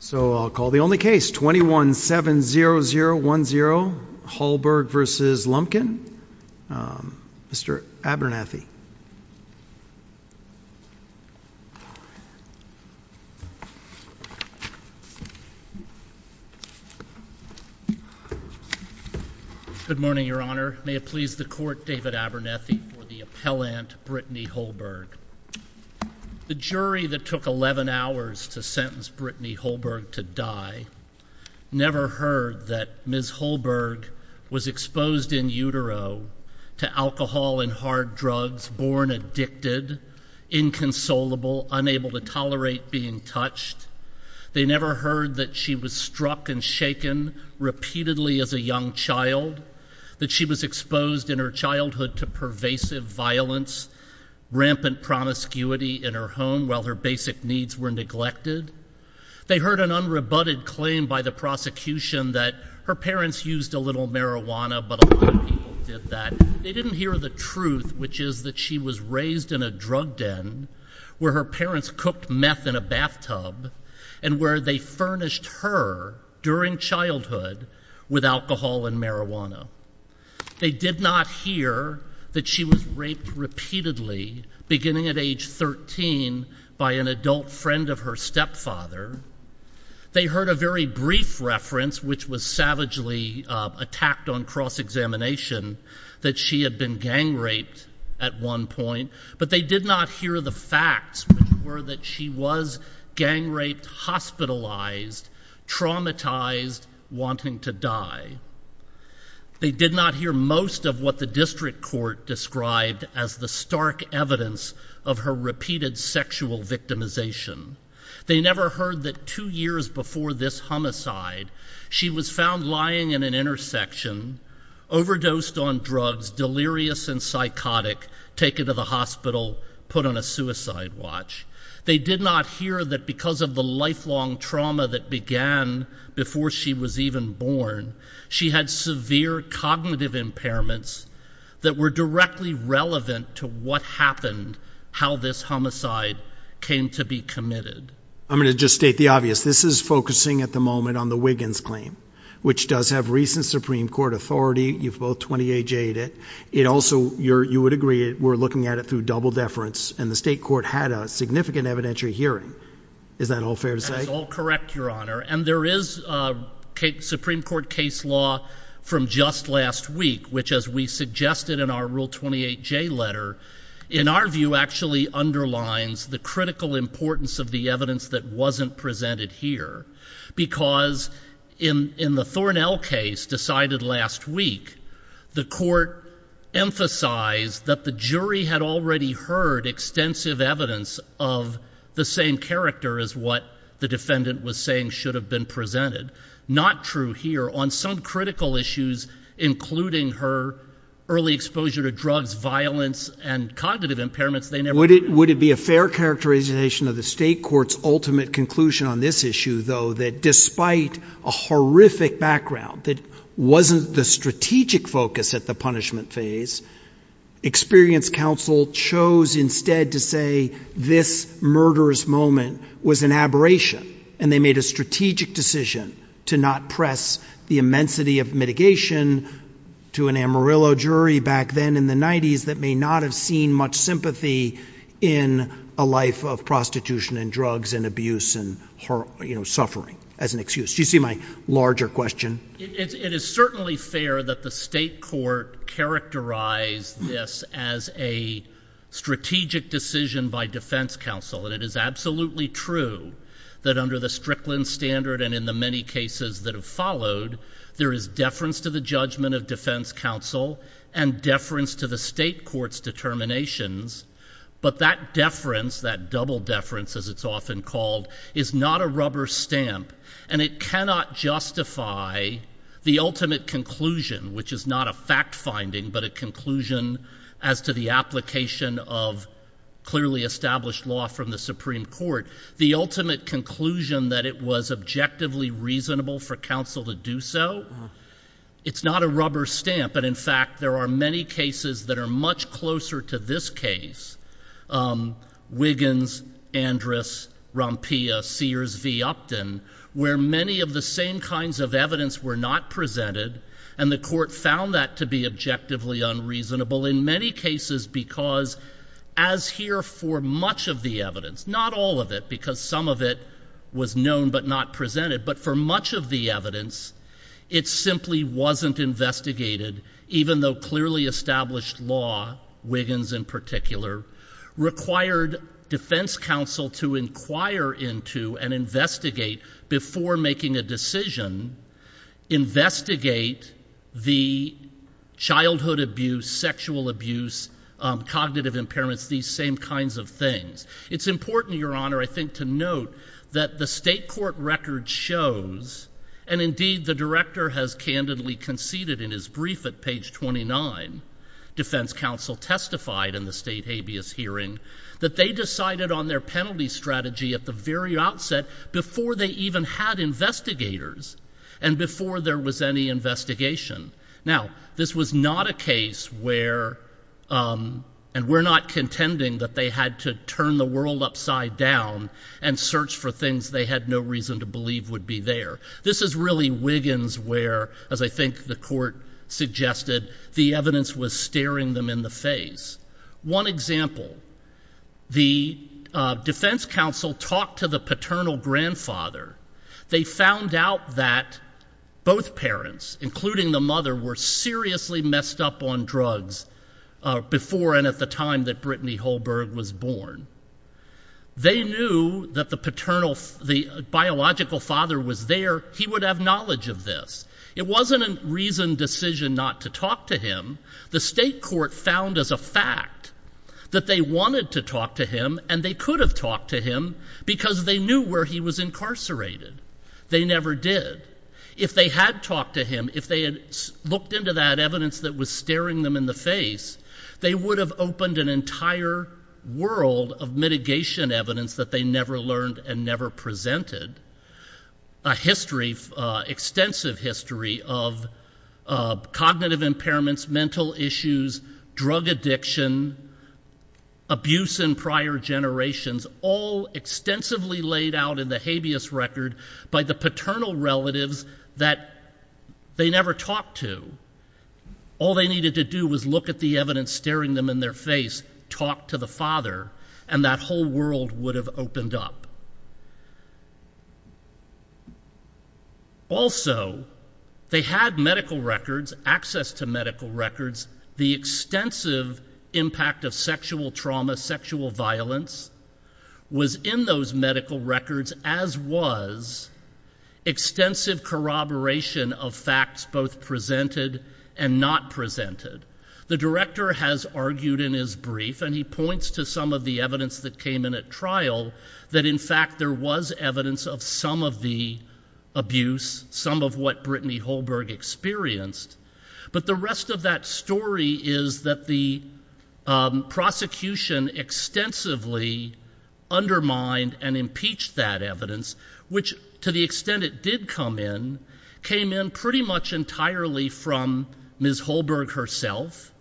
So I'll call the only case, 21-70010, Holberg v. Lumpkin, Mr. Abernethy. Good morning, Your Honor. May it please the Court, David Abernethy for the appellant, Brittany Holberg. The jury that took 11 hours to sentence Brittany Holberg to die never heard that Ms. Holberg was exposed in utero to alcohol and hard drugs, born addicted, inconsolable, unable to tolerate being touched. They never heard that she was struck and shaken repeatedly as a young child, that she was exposed in her childhood to pervasive violence, rampant promiscuity in her home while her basic needs were neglected. They heard an unrebutted claim by the prosecution that her parents used a little marijuana, but a lot of people did that. They didn't hear the truth, which is that she was raised in a drug den where her parents cooked meth in a bathtub and where they furnished her, during childhood, with alcohol and marijuana. They did not hear that she was raped repeatedly, beginning at age 13, by an adult friend of her stepfather. They heard a very brief reference, which was savagely attacked on cross-examination, that she had been gang raped at one point, but they did not hear the facts, which were that she was gang raped, hospitalized, traumatized, wanting to die. They did not hear most of what the district court described as the stark evidence of her repeated sexual victimization. They never heard that two years before this homicide, she was found lying in an intersection, overdosed on drugs, delirious and psychotic, taken to the hospital, put on a suicide watch. They did not hear that because of the lifelong trauma that began before she was even born, she had severe cognitive impairments that were directly relevant to what happened, how this homicide came to be committed. I'm going to just state the obvious. This is focusing at the moment on the Wiggins claim, which does have recent Supreme Court authority. You've both 28-J'd it. It also, you would agree, we're looking at it through double deference, and the state court had a significant evidentiary hearing. Is that all fair to say? And there is a Supreme Court case law from just last week, which as we suggested in our Rule 28-J letter, in our view actually underlines the critical importance of the evidence that wasn't presented here. Because in the Thornell case decided last week, the court emphasized that the jury had already heard extensive evidence of the same character as what the defendant was saying should have been presented. Not true here. On some critical issues, including her early exposure to drugs, violence, and cognitive impairments, they never heard that. Would it be a fair characterization of the state court's ultimate conclusion on this issue, though, that despite a horrific background that wasn't the strategic focus at the punishment phase, experience counsel chose instead to say this murderous moment was an aberration, and they made a strategic decision to not press the immensity of mitigation to an Amarillo jury back then in the 90s that may not have seen much sympathy in a life of prostitution and drugs and abuse and suffering as an excuse? Do you see my larger question? It is certainly fair that the state court characterized this as a strategic decision by defense counsel, and it is absolutely true that under the Strickland standard and in the many cases that have followed, there is deference to the judgment of defense counsel and deference to the state court's determinations. But that deference, that double deference as it's often called, is not a rubber stamp, and it cannot justify the ultimate conclusion, which is not a fact finding but a conclusion as to the application of clearly established law from the Supreme Court. The ultimate conclusion that it was objectively reasonable for counsel to do so, it's not a rubber stamp. But in fact, there are many cases that are much closer to this case, Wiggins, Andrus, Rompia, Sears v. Upton, where many of the same kinds of evidence were not presented, and the court found that to be objectively unreasonable in many cases because as here for much of the evidence, not all of it because some of it was known but not presented, but for much of the evidence, it simply wasn't investigated, even though clearly established law, Wiggins in particular, required defense counsel to inquire into and investigate before making a decision, investigate the childhood abuse, sexual abuse, cognitive impairments, these same kinds of things. It's important, Your Honor, I think, to note that the state court record shows, and indeed the director has candidly conceded in his brief at page 29, defense counsel testified in the state habeas hearing, that they decided on their penalty strategy at the very outset before they even had investigators and before there was any investigation. Now, this was not a case where, and we're not contending that they had to turn the world upside down and search for things they had no reason to believe would be there. This is really Wiggins where, as I think the court suggested, the evidence was staring them in the face. One example, the defense counsel talked to the paternal grandfather. They found out that both parents, including the mother, were seriously messed up on drugs before and at the time that Brittany Holberg was born. They knew that the biological father was there. He would have knowledge of this. It wasn't a reasoned decision not to talk to him. The state court found as a fact that they wanted to talk to him and they could have talked to him because they knew where he was incarcerated. They never did. If they had talked to him, if they had looked into that evidence that was staring them in the face, they would have opened an entire world of mitigation evidence that they never learned and never presented. A history, extensive history of cognitive impairments, mental issues, drug addiction, abuse in prior generations, all extensively laid out in the habeas record by the paternal relatives that they never talked to. All they needed to do was look at the evidence staring them in their face, talk to the father, and that whole world would have opened up. Also, they had medical records, access to medical records. The extensive impact of sexual trauma, sexual violence was in those medical records, as was extensive corroboration of facts both presented and not presented. The director has argued in his brief, and he points to some of the evidence that came in at trial, that in fact there was evidence of some of the abuse, some of what Brittany Holberg experienced. But the rest of that story is that the prosecution extensively undermined and impeached that evidence, which to the extent it did come in, came in pretty much entirely from Ms. Holberg herself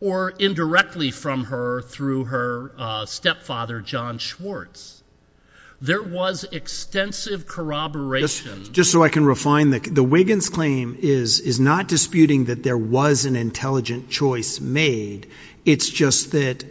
or indirectly from her through her stepfather, John Schwartz. There was extensive corroboration. Just so I can refine, the Wiggins claim is not disputing that there was an intelligent choice made. It's just that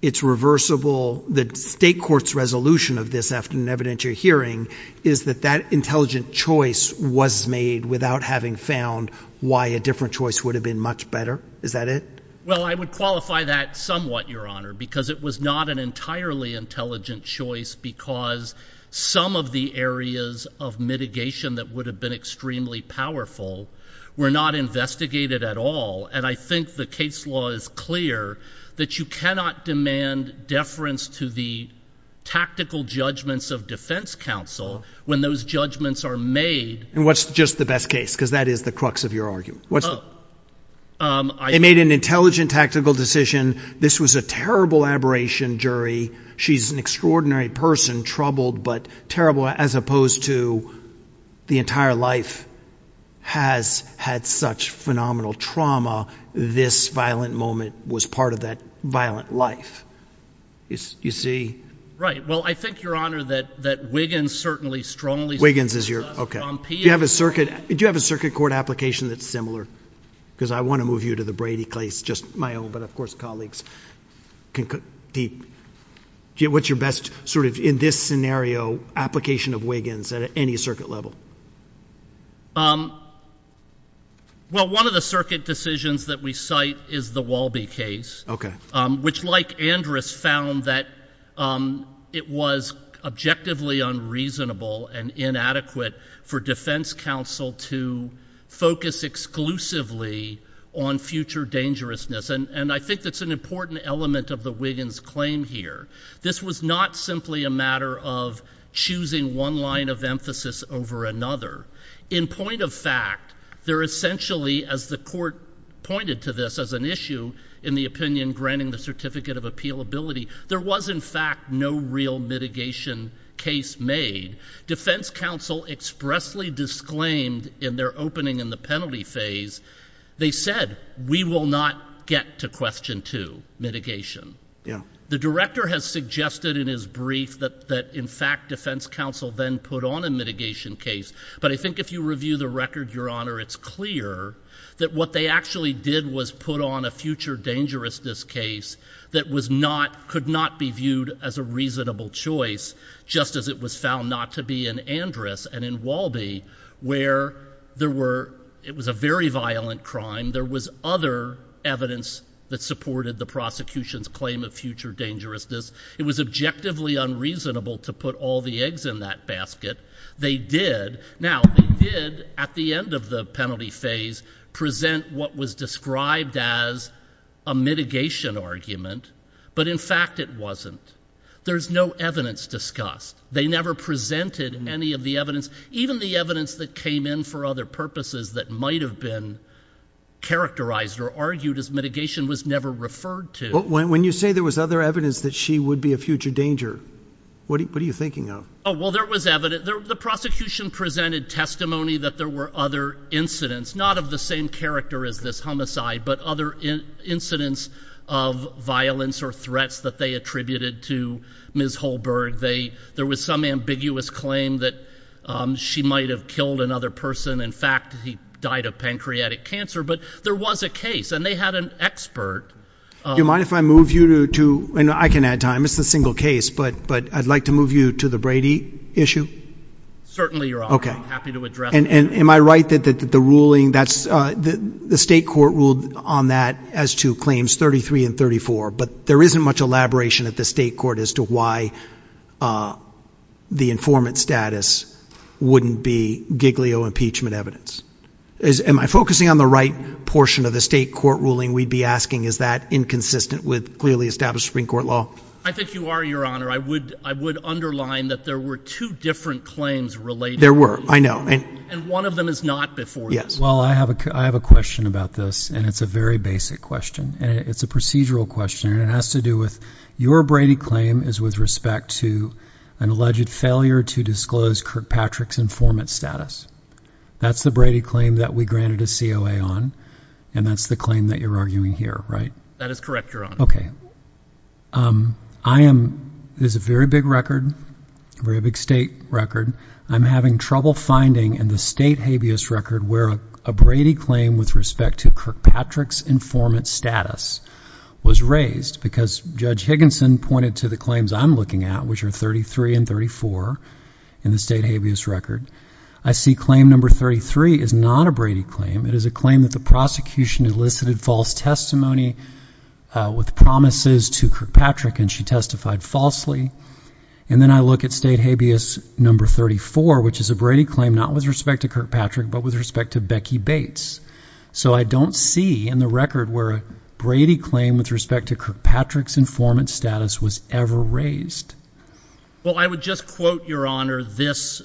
it's reversible. The state court's resolution of this after an evidentiary hearing is that that intelligent choice was made without having found why a different choice would have been much better. Is that it? Well, I would qualify that somewhat, Your Honor, because it was not an entirely intelligent choice because some of the areas of mitigation that would have been extremely powerful were not investigated at all. And I think the case law is clear that you cannot demand deference to the tactical judgments of defense counsel when those judgments are made. And what's just the best case? Because that is the crux of your argument. They made an intelligent tactical decision. This was a terrible aberration jury. She's an extraordinary person, troubled but terrible, as opposed to the entire life has had such phenomenal trauma. This violent moment was part of that violent life. You see? Right. Well, I think, Your Honor, that Wiggins certainly strongly… Wiggins is your… Do you have a circuit court application that's similar? Because I want to move you to the Brady case, just my own, but of course colleagues can compete. What's your best sort of, in this scenario, application of Wiggins at any circuit level? Well, one of the circuit decisions that we cite is the Walby case, which Mike Andrus found that it was objectively unreasonable and inadequate for defense counsel to focus exclusively on future dangerousness. And I think that's an important element of the Wiggins claim here. This was not simply a matter of choosing one line of emphasis over another. In point of fact, there essentially, as the court pointed to this as an issue in the opinion granting the certificate of appealability, there was, in fact, no real mitigation case made. Defense counsel expressly disclaimed in their opening in the penalty phase, they said, we will not get to question two, mitigation. The director has suggested in his brief that, in fact, defense counsel then put on a mitigation case, but I think if you review the record, Your Honor, it's clear that what they actually did was put on a future dangerousness case that could not be viewed as a reasonable choice, just as it was found not to be in Andrus and in Walby, where it was a very violent crime. There was other evidence that supported the prosecution's claim of future dangerousness. It was objectively unreasonable to put all the eggs in that basket. They did. Now, they did, at the end of the penalty phase, present what was described as a mitigation argument, but in fact it wasn't. There's no evidence discussed. They never presented any of the evidence, even the evidence that came in for other purposes that might have been characterized or argued as mitigation was never referred to. When you say there was other evidence that she would be a future danger, what are you thinking of? Well, there was evidence. The prosecution presented testimony that there were other incidents, not of the same character as this homicide, but other incidents of violence or threats that they attributed to Ms. Holberg. There was some ambiguous claim that she might have killed another person. In fact, he died of pancreatic cancer, but there was a case, and they had an expert. Do you mind if I move you to, and I can add time, it's a single case, but I'd like to move you to the Brady issue? Certainly, Your Honor. Okay. I'm happy to address it. Am I right that the ruling, the state court ruled on that as to claims 33 and 34, but there isn't much elaboration at the state court as to why the informant status wouldn't be Giglio impeachment evidence? Am I focusing on the right portion of the state court ruling we'd be asking? Is that inconsistent with clearly established Supreme Court law? I think you are, Your Honor. I would underline that there were two different claims related. There were. I know. And one of them is not before you. Yes. Well, I have a question about this, and it's a very basic question. It's a procedural question, and it has to do with your Brady claim is with respect to an alleged failure to disclose Kirkpatrick's informant status. That's the Brady claim that we granted a COA on, and that's the claim that you're arguing here, right? That is correct, Your Honor. Okay. There's a very big record, a very big state record. I'm having trouble finding in the state habeas record where a Brady claim with respect to Kirkpatrick's informant status was raised because Judge Higginson pointed to the claims I'm looking at, which are 33 and 34 in the state habeas record. I see claim number 33 is not a Brady claim. It is a claim that the prosecution elicited false testimony with promises to Kirkpatrick, and she testified falsely. And then I look at state habeas number 34, which is a Brady claim not with respect to Kirkpatrick, but with respect to Becky Bates. So I don't see in the record where a Brady claim with respect to Kirkpatrick's informant status was ever raised. Well, I would just quote, Your Honor, this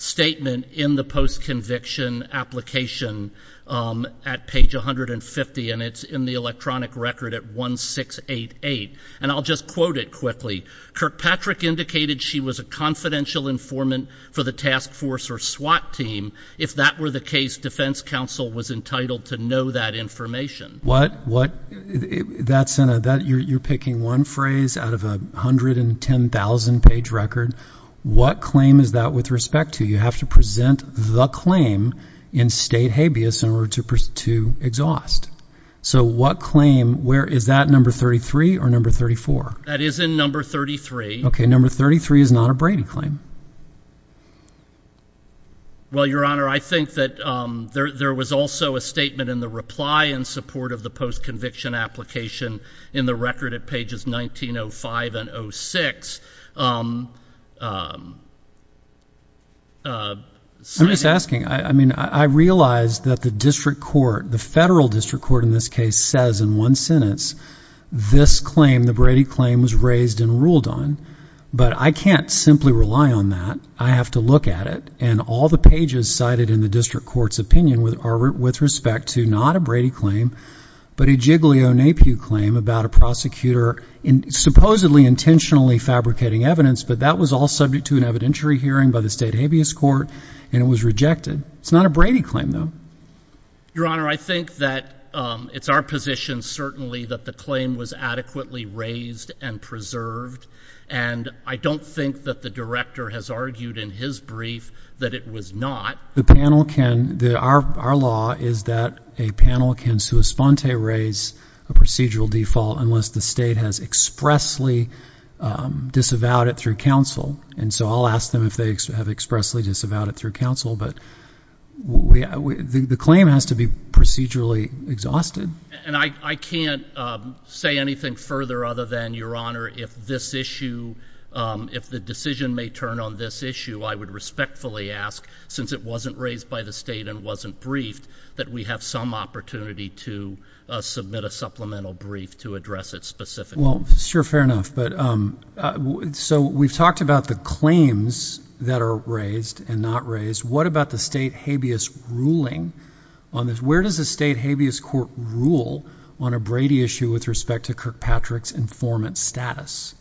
statement in the post-conviction application at page 150, and it's in the electronic record at 1688, and I'll just quote it quickly. Kirkpatrick indicated she was a confidential informant for the task force or SWAT team. If that were the case, defense counsel was entitled to know that information. You're picking one phrase out of a 110,000-page record. What claim is that with respect to? You have to present the claim in state habeas in order to exhaust. So what claim? Is that number 33 or number 34? That is in number 33. Okay, number 33 is not a Brady claim. Well, Your Honor, I think that there was also a statement in the reply in support of the post-conviction application in the record at pages 1905 and 06. I'm just asking. I mean, I realize that the district court, the federal district court in this case, says in one sentence, this claim, the Brady claim, was raised and ruled on, but I can't simply rely on that. I have to look at it, and all the pages cited in the district court's opinion are with respect to not a Brady claim, but a Giglio-Napiew claim about a prosecutor supposedly intentionally fabricating evidence, but that was all subject to an evidentiary hearing by the state habeas court, and it was rejected. It's not a Brady claim, though. Your Honor, I think that it's our position, certainly, that the claim was adequately raised and preserved, and I don't think that the director has argued in his brief that it was not. Our law is that a panel can sua sponte raise a procedural default unless the state has expressly disavowed it through counsel, and so I'll ask them if they have expressly disavowed it through counsel, but the claim has to be procedurally exhausted. And I can't say anything further other than, Your Honor, if this issue, if the decision may turn on this issue, I would respectfully ask, since it wasn't raised by the state and wasn't briefed, that we have some opportunity to submit a supplemental brief to address it specifically. Well, sure, fair enough, but so we've talked about the claims that are raised and not raised. What about the state habeas ruling on this? Where does the state habeas court rule on a Brady issue with respect to Kirkpatrick's informant status?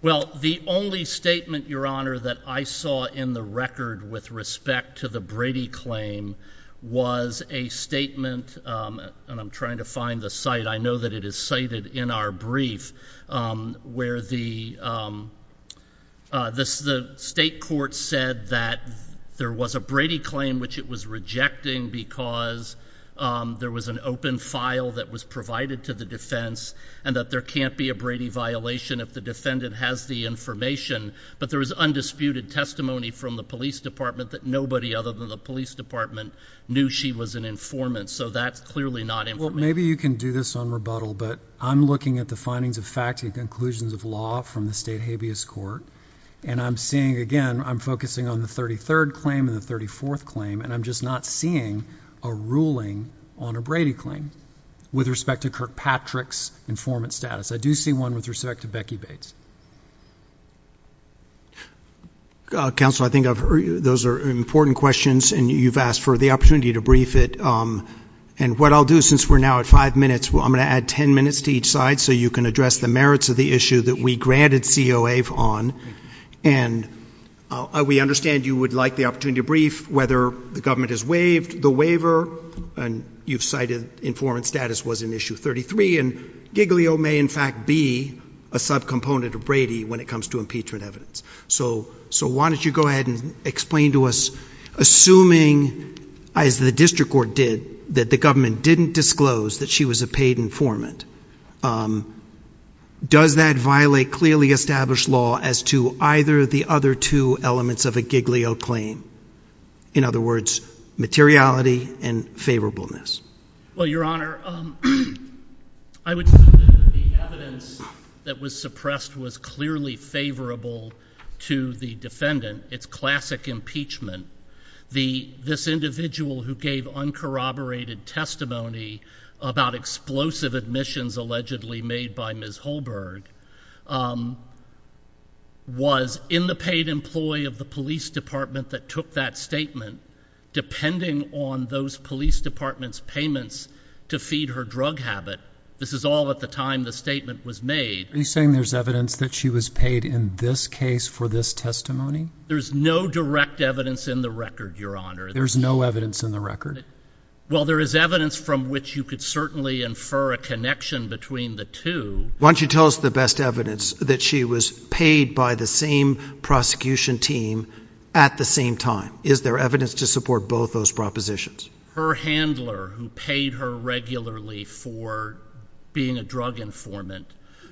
Well, the only statement, Your Honor, that I saw in the record with respect to the Brady claim was a statement, and I'm trying to find the site, I know that it is cited in our brief, where the state court said that there was a Brady claim which it was rejecting because there was an open file that was provided to the defense and that there can't be a Brady violation if the defendant has the information, but there was undisputed testimony from the police department that nobody other than the police department knew she was an informant, so that's clearly not important. Well, maybe you can do this on rebuttal, but I'm looking at the findings of fact and conclusions of law from the state habeas court, and I'm seeing, again, I'm focusing on the 33rd claim and the 34th claim, and I'm just not seeing a ruling on a Brady claim with respect to Kirkpatrick's informant status. I do see one with respect to Becky Bates. Counsel, I think those are important questions, and you've asked for the opportunity to brief it, and what I'll do since we're now at five minutes, I'm going to add ten minutes to each side so you can address the merits of the issue that we granted COA on, and we understand you would like the opportunity to brief whether the government has waived the waiver, and you've cited informant status was in issue 33, and Giglio may in fact be a subcomponent of Brady when it comes to impeachment evidence. So why don't you go ahead and explain to us, assuming, as the district court did, that the government didn't disclose that she was a paid informant, does that violate clearly established law as to either of the other two elements of a Giglio claim? In other words, materiality and favorableness. Well, Your Honor, I would say that the evidence that was suppressed was clearly favorable to the defendant. It's classic impeachment. This individual who gave uncorroborated testimony about explosive admissions allegedly made by Ms. Holberg was in the paid employee of the police department that took that statement. Depending on those police department's payments to feed her drug habit, this is all at the time the statement was made. Are you saying there's evidence that she was paid in this case for this testimony? There's no direct evidence in the record, Your Honor. There's no evidence in the record? Well, there is evidence from which you could certainly infer a connection between the two. Why don't you tell us the best evidence, that she was paid by the same prosecution team at the same time. Is there evidence to support both those propositions? Her handler, who paid her regularly for being a drug informant,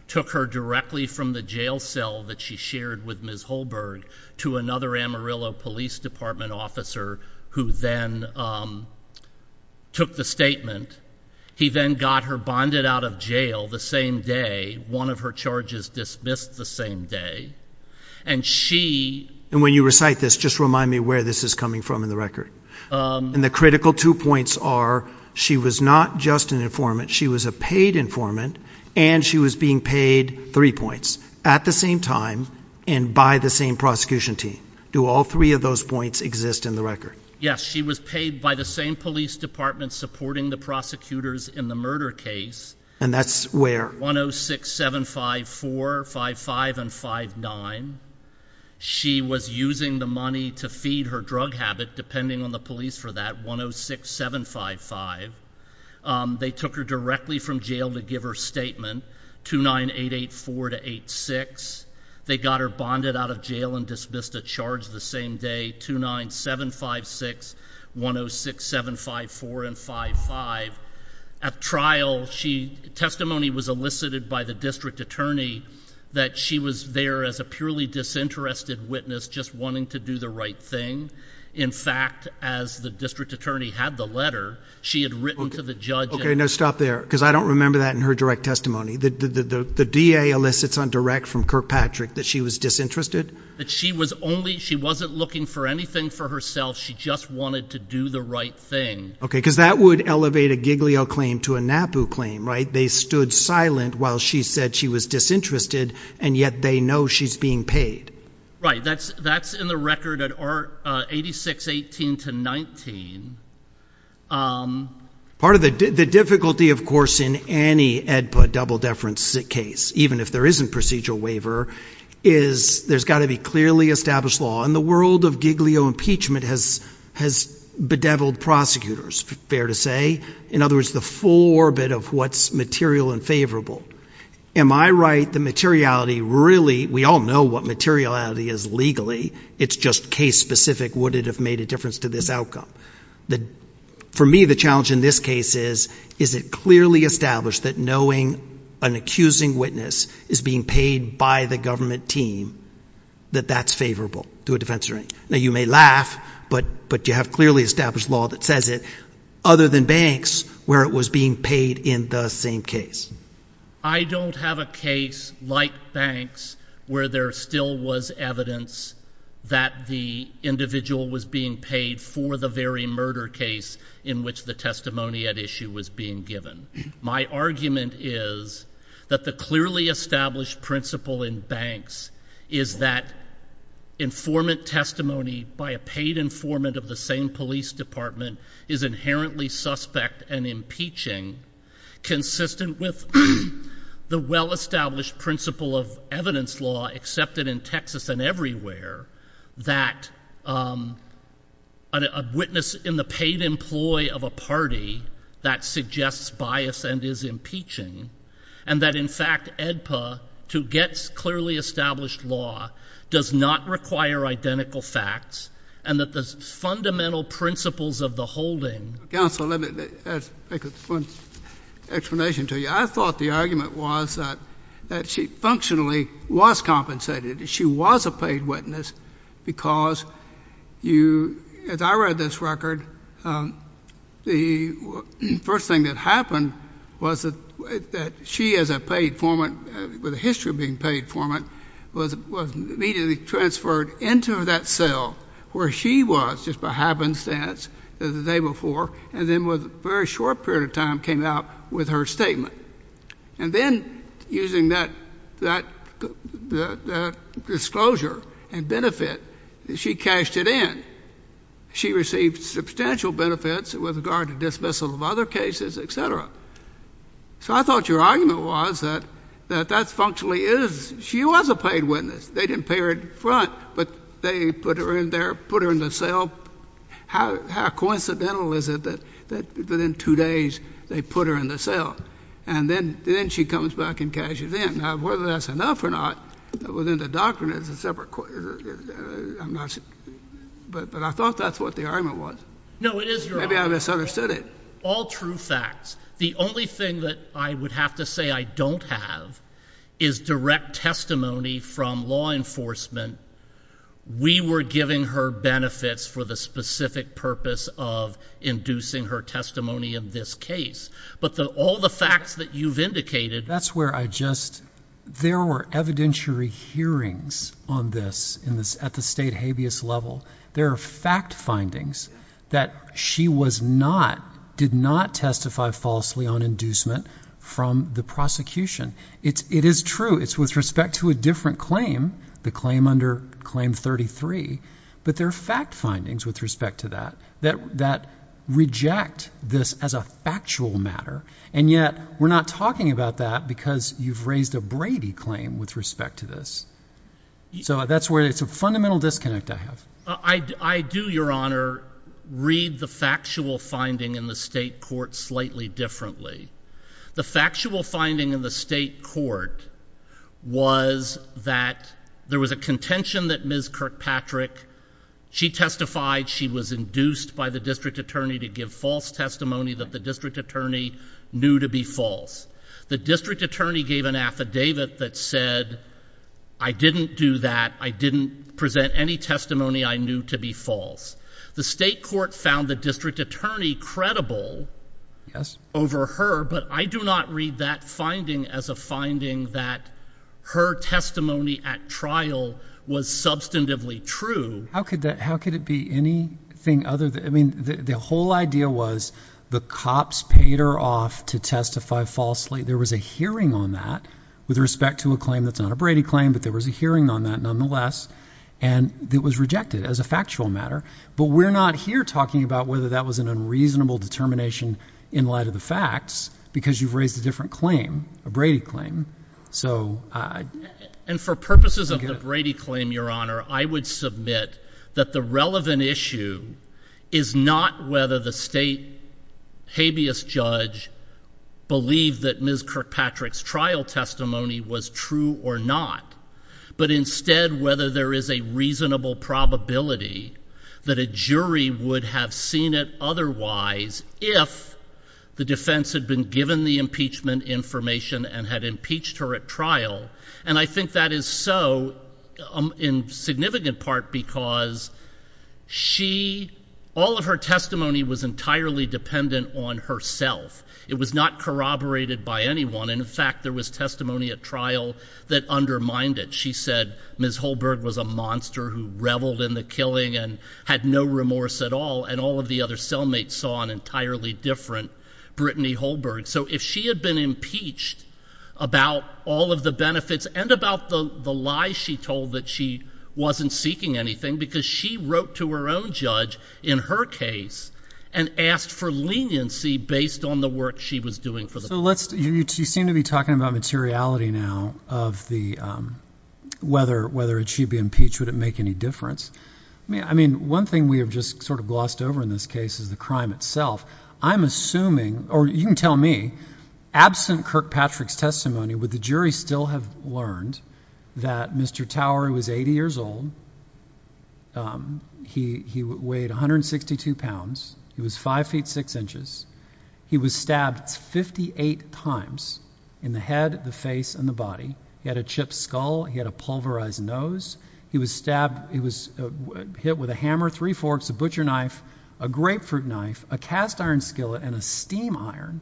took her directly from the jail cell that she shared with Ms. Holberg to another Amarillo Police Department officer who then took the statement. He then got her bonded out of jail the same day, one of her charges dismissed the same day. And when you recite this, just remind me where this is coming from in the record. And the critical two points are, she was not just an informant, she was a paid informant, and she was being paid three points at the same time and by the same prosecution team. Do all three of those points exist in the record? Yes, she was paid by the same police department supporting the prosecutors in the murder case. And that's where? 10675455 and 5-9. She was using the money to feed her drug habit, depending on the police for that, 106755. They took her directly from jail to give her statement, 29884 to 8-6. They got her bonded out of jail and dismissed a charge the same day, 29756, 106754 and 5-5. At trial, testimony was elicited by the district attorney that she was there as a purely disinterested witness, just wanting to do the right thing. In fact, as the district attorney had the letter, she had written to the judge. Okay, now stop there, because I don't remember that in her direct testimony. The DA elicits on direct from Kirkpatrick that she was disinterested? She wasn't looking for anything for herself. She just wanted to do the right thing. Okay, because that would elevate a Giglio claim to a NAPU claim, right? They stood silent while she said she was disinterested, and yet they know she's being paid. Right, that's in the record at 8618-19. Part of the difficulty, of course, in any AEDPA double-deference case, even if there isn't procedural waiver, is there's got to be clearly established law, and the world of Giglio impeachment has bedeviled prosecutors, fair to say. In other words, the full orbit of what's material and favorable. Am I right that materiality really, we all know what materiality is legally, it's just case-specific. Would it have made a difference to this outcome? For me, the challenge in this case is, is it clearly established that knowing an accusing witness is being paid by the government team, that that's favorable to a defense jury? Now, you may laugh, but you have clearly established law that says it, other than banks, where it was being paid in the same case. I don't have a case like banks where there still was evidence that the individual was being paid for the very murder case in which the testimony at issue was being given. My argument is that the clearly established principle in banks is that informant testimony by a paid informant of the same police department is inherently suspect and impeaching, consistent with the well-established principle of evidence law accepted in Texas and everywhere, that a witness in the paid employ of a party that suggests bias and is impeaching, and that in fact, AEDPA, to get clearly established law, does not require identical facts, and that the fundamental principles of the holding counsel, let me make a short explanation to you. I thought the argument was that she functionally was compensated. She was a paid witness because you, as I read this record, the first thing that happened was that she as a paid informant, with a history of being paid informant, was immediately transferred into that cell where she was, just by happenstance, the day before, and then within a very short period of time came out with her statement. And then, using that disclosure and benefit, she cashed it in. She received substantial benefits with regard to dismissal of other cases, et cetera. So I thought your argument was that that functionally is, she was a paid witness. They didn't pay her in front, but they put her in there, put her in the cell. How coincidental is it that within two days, they put her in the cell? And then she comes back and cashes in. Now, whether that's enough or not, within the doctrine of the separate court, I'm not sure. But I thought that's what the argument was. Maybe I misunderstood it. All true facts. The only thing that I would have to say I don't have is direct testimony from law enforcement. We were giving her benefits for the specific purpose of inducing her testimony in this case. But all the facts that you've indicated... There were evidentiary hearings on this at the state habeas level. There are fact findings that she did not testify falsely on inducement from the prosecution. It is true. It's with respect to a different claim, the claim under Claim 33. But there are fact findings with respect to that that reject this as a factual matter. And yet, we're not talking about that because you've raised a Brady claim with respect to this. So that's where it's a fundamental disconnect I have. I do, Your Honor, read the factual finding in the state court slightly differently. The factual finding in the state court was that there was a contention that Ms. Kirkpatrick... The district attorney gave an affidavit that said, I didn't do that. I didn't present any testimony I knew to be false. The state court found the district attorney credible over her. But I do not read that finding as a finding that her testimony at trial was substantively true. How could it be anything other than... There was a hearing on that with respect to a claim that's not a Brady claim. But there was a hearing on that nonetheless. And it was rejected as a factual matter. But we're not here talking about whether that was an unreasonable determination in light of the facts. Because you've raised a different claim, a Brady claim. And for purposes of the Brady claim, Your Honor, I would submit that the relevant issue is not whether the state habeas judge believed that Ms. Kirkpatrick's trial testimony was true or not. But instead, whether there is a reasonable probability that a jury would have seen it otherwise if the defense had been given the impeachment information and had impeached her at trial. And I think that is so in significant part because all of her testimony was entirely dependent on herself. It was not corroborated by anyone. And in fact, there was testimony at trial that undermined it. She said Ms. Holberg was a monster who reveled in the killing and had no remorse at all. And all of the other cellmates saw an entirely different Brittany Holberg. So if she had been impeached about all of the benefits and about the lies she told that she wasn't seeking anything, because she wrote to her own judge in her case and asked for leniency based on the work she was doing for the case. So let's you seem to be talking about materiality now of the whether whether she'd be impeached. Would it make any difference? I mean, one thing we have just sort of glossed over in this case is the crime itself. I'm assuming or you can tell me absent Kirkpatrick's testimony with the jury still have learned that Mr. Tower was 80 years old. He weighed 162 pounds. He was five feet, six inches. He was stabbed 58 times in the head, the face and the body. He had a chipped skull. He had a pulverized nose. He was stabbed. He was hit with a hammer, three forks, a butcher knife, a grapefruit knife, a cast iron skillet and a steam iron.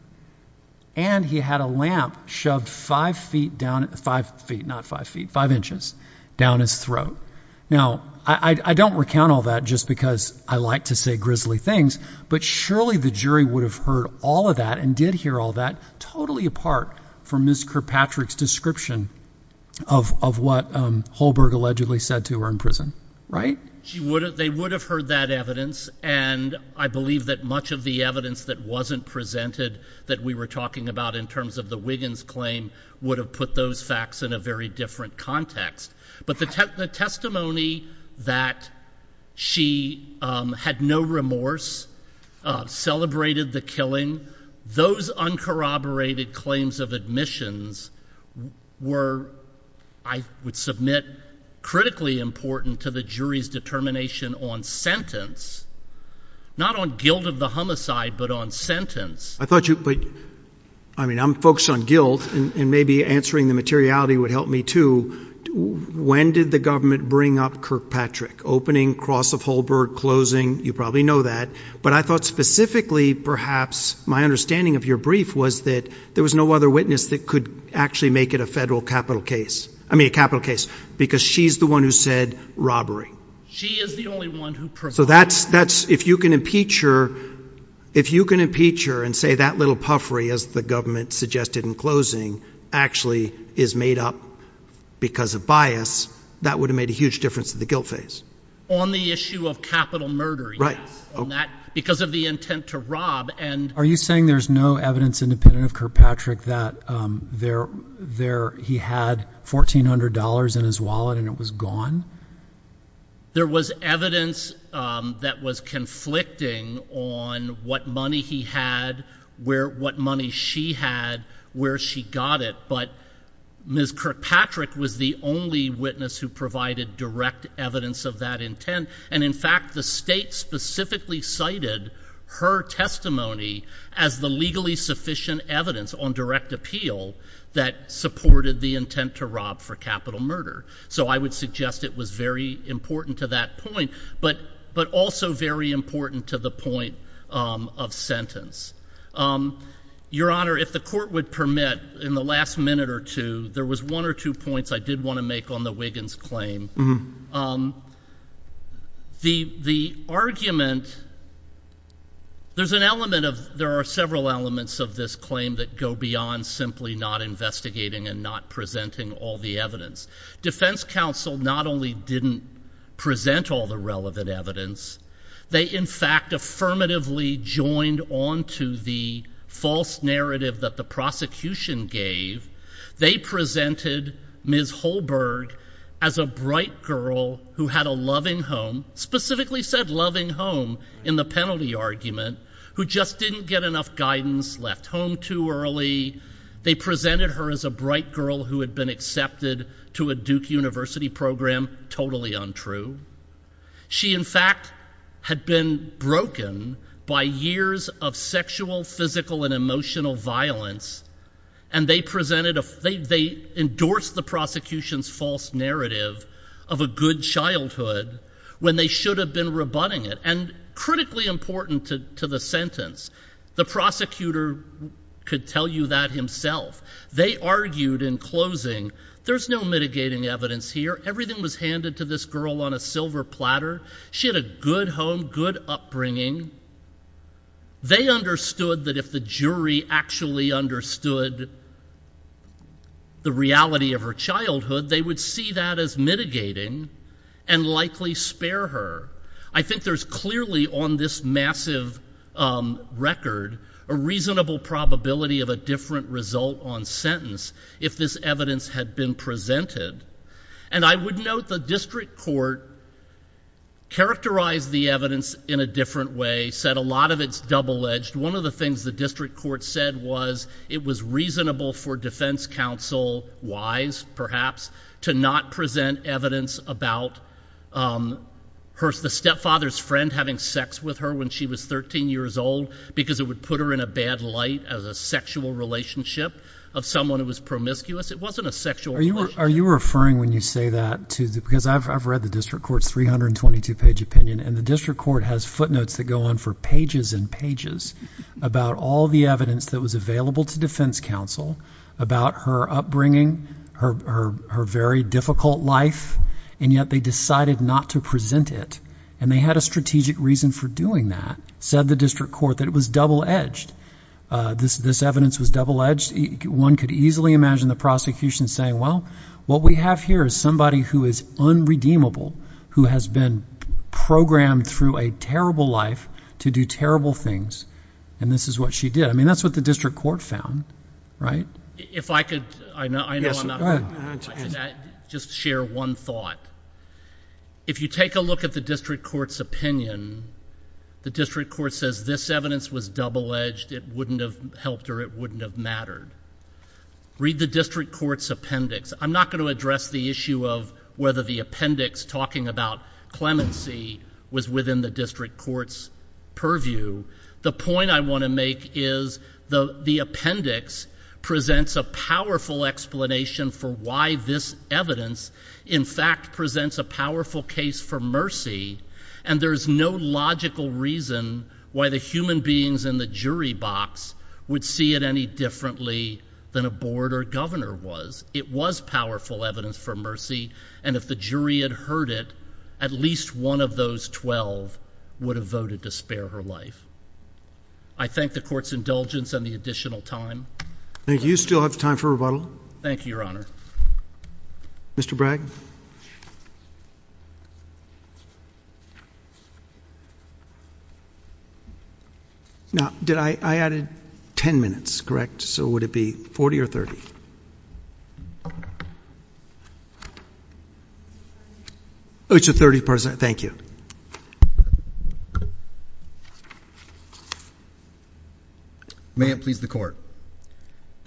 And he had a lamp shoved five feet down at five feet, not five feet, five inches down his throat. Now, I don't recount all that just because I like to say grisly things. But surely the jury would have heard all of that and did hear all that totally apart from this Kirkpatrick's description of what Holberg allegedly said to her in prison. Right. They would have heard that evidence. And I believe that much of the evidence that wasn't presented that we were talking about in terms of the Wiggins claim would have put those facts in a very different context. But the testimony that she had no remorse, celebrated the killing, those uncorroborated claims of admissions were, I would submit, critically important to the jury's determination on sentence. Not on guilt of the homicide, but on sentence. I mean, I'm focused on guilt and maybe answering the materiality would help me, too. When did the government bring up Kirkpatrick? Opening, cross of Holberg, closing, you probably know that. But I thought specifically, perhaps, my understanding of your brief was that there was no other witness that could actually make it a federal capital case. I mean, a capital case. Because she's the one who said robbery. She is the only one. If you can impeach her and say that little puffery, as the government suggested in closing, actually is made up because of bias, that would have made a huge difference to the guilt phase. On the issue of capital murders. Right. Because of the intent to rob. Are you saying there's no evidence independent of Kirkpatrick that he had $1,400 in his wallet and it was gone? There was evidence that was conflicting on what money he had, what money she had, where she got it. But Ms. Kirkpatrick was the only witness who provided direct evidence of that intent. And, in fact, the state specifically cited her testimony as the legally sufficient evidence on direct appeal that supported the intent to rob for capital murder. So I would suggest it was very important to that point, but also very important to the point of sentence. Your Honor, if the court would permit, in the last minute or two, there was one or two points I did want to make on the Wiggins claim. The argument, there's an element of, there are several elements of this claim that go beyond simply not investigating and not presenting all the evidence. Defense counsel not only didn't present all the relevant evidence, they, in fact, affirmatively joined onto the false narrative that the prosecution gave. They presented Ms. Holberg as a bright girl who had a loving home, specifically said loving home in the penalty argument, who just didn't get enough guidance, left home too early. They presented her as a bright girl who had been accepted to a Duke University program, totally untrue. She, in fact, had been broken by years of sexual, physical, and emotional violence, and they presented, they endorsed the prosecution's false narrative of a good childhood when they should have been rebutting it. And critically important to the sentence, the prosecutor could tell you that himself. They argued in closing, there's no mitigating evidence here. Everything was handed to this girl on a silver platter. She had a good home, good upbringing. They understood that if the jury actually understood the reality of her childhood, they would see that as mitigating and likely spare her. I think there's clearly on this massive record a reasonable probability of a different result on sentence if this evidence had been presented. And I would note the district court characterized the evidence in a different way, said a lot of it's double-edged. One of the things the district court said was it was reasonable for defense counsel-wise, perhaps, to not present evidence about the stepfather's friend having sex with her when she was 13 years old because it would put her in a bad light as a sexual relationship of someone who was promiscuous. It wasn't a sexual relationship. Are you referring, when you say that, because I've read the district court's 322-page opinion and the district court has footnotes that go on for pages and pages about all the evidence that was available to defense counsel about her upbringing, her very difficult life, and yet they decided not to present it. And they had a strategic reason for doing that, said the district court, that it was double-edged. This evidence was double-edged. One could easily imagine the prosecution saying, well, what we have here is somebody who is unredeemable, who has been programmed through a terrible life to do terrible things, and this is what she did. I mean, that's what the district court found, right? If I could, I know I'm not- Yes, go ahead. Just share one thought. If you take a look at the district court's opinion, the district court says this evidence was double-edged, it wouldn't have helped or it wouldn't have mattered. Read the district court's appendix. I'm not going to address the issue of whether the appendix talking about clemency was within the district court's purview. The point I want to make is the appendix presents a powerful explanation for why this evidence, in fact, presents a powerful case for mercy, and there's no logical reason why the human beings in the jury box would see it any differently than a board or governor was. It was powerful evidence for mercy, and if the jury had heard it, at least one of those 12 would have voted to spare her life. I thank the court's indulgence and the additional time. Thank you. You still have time for rebuttal. Thank you, Your Honor. Mr. Bragg? Now, I added 10 minutes, correct? So would it be 40 or 30? Oh, it's a 30%. Thank you. May it please the court.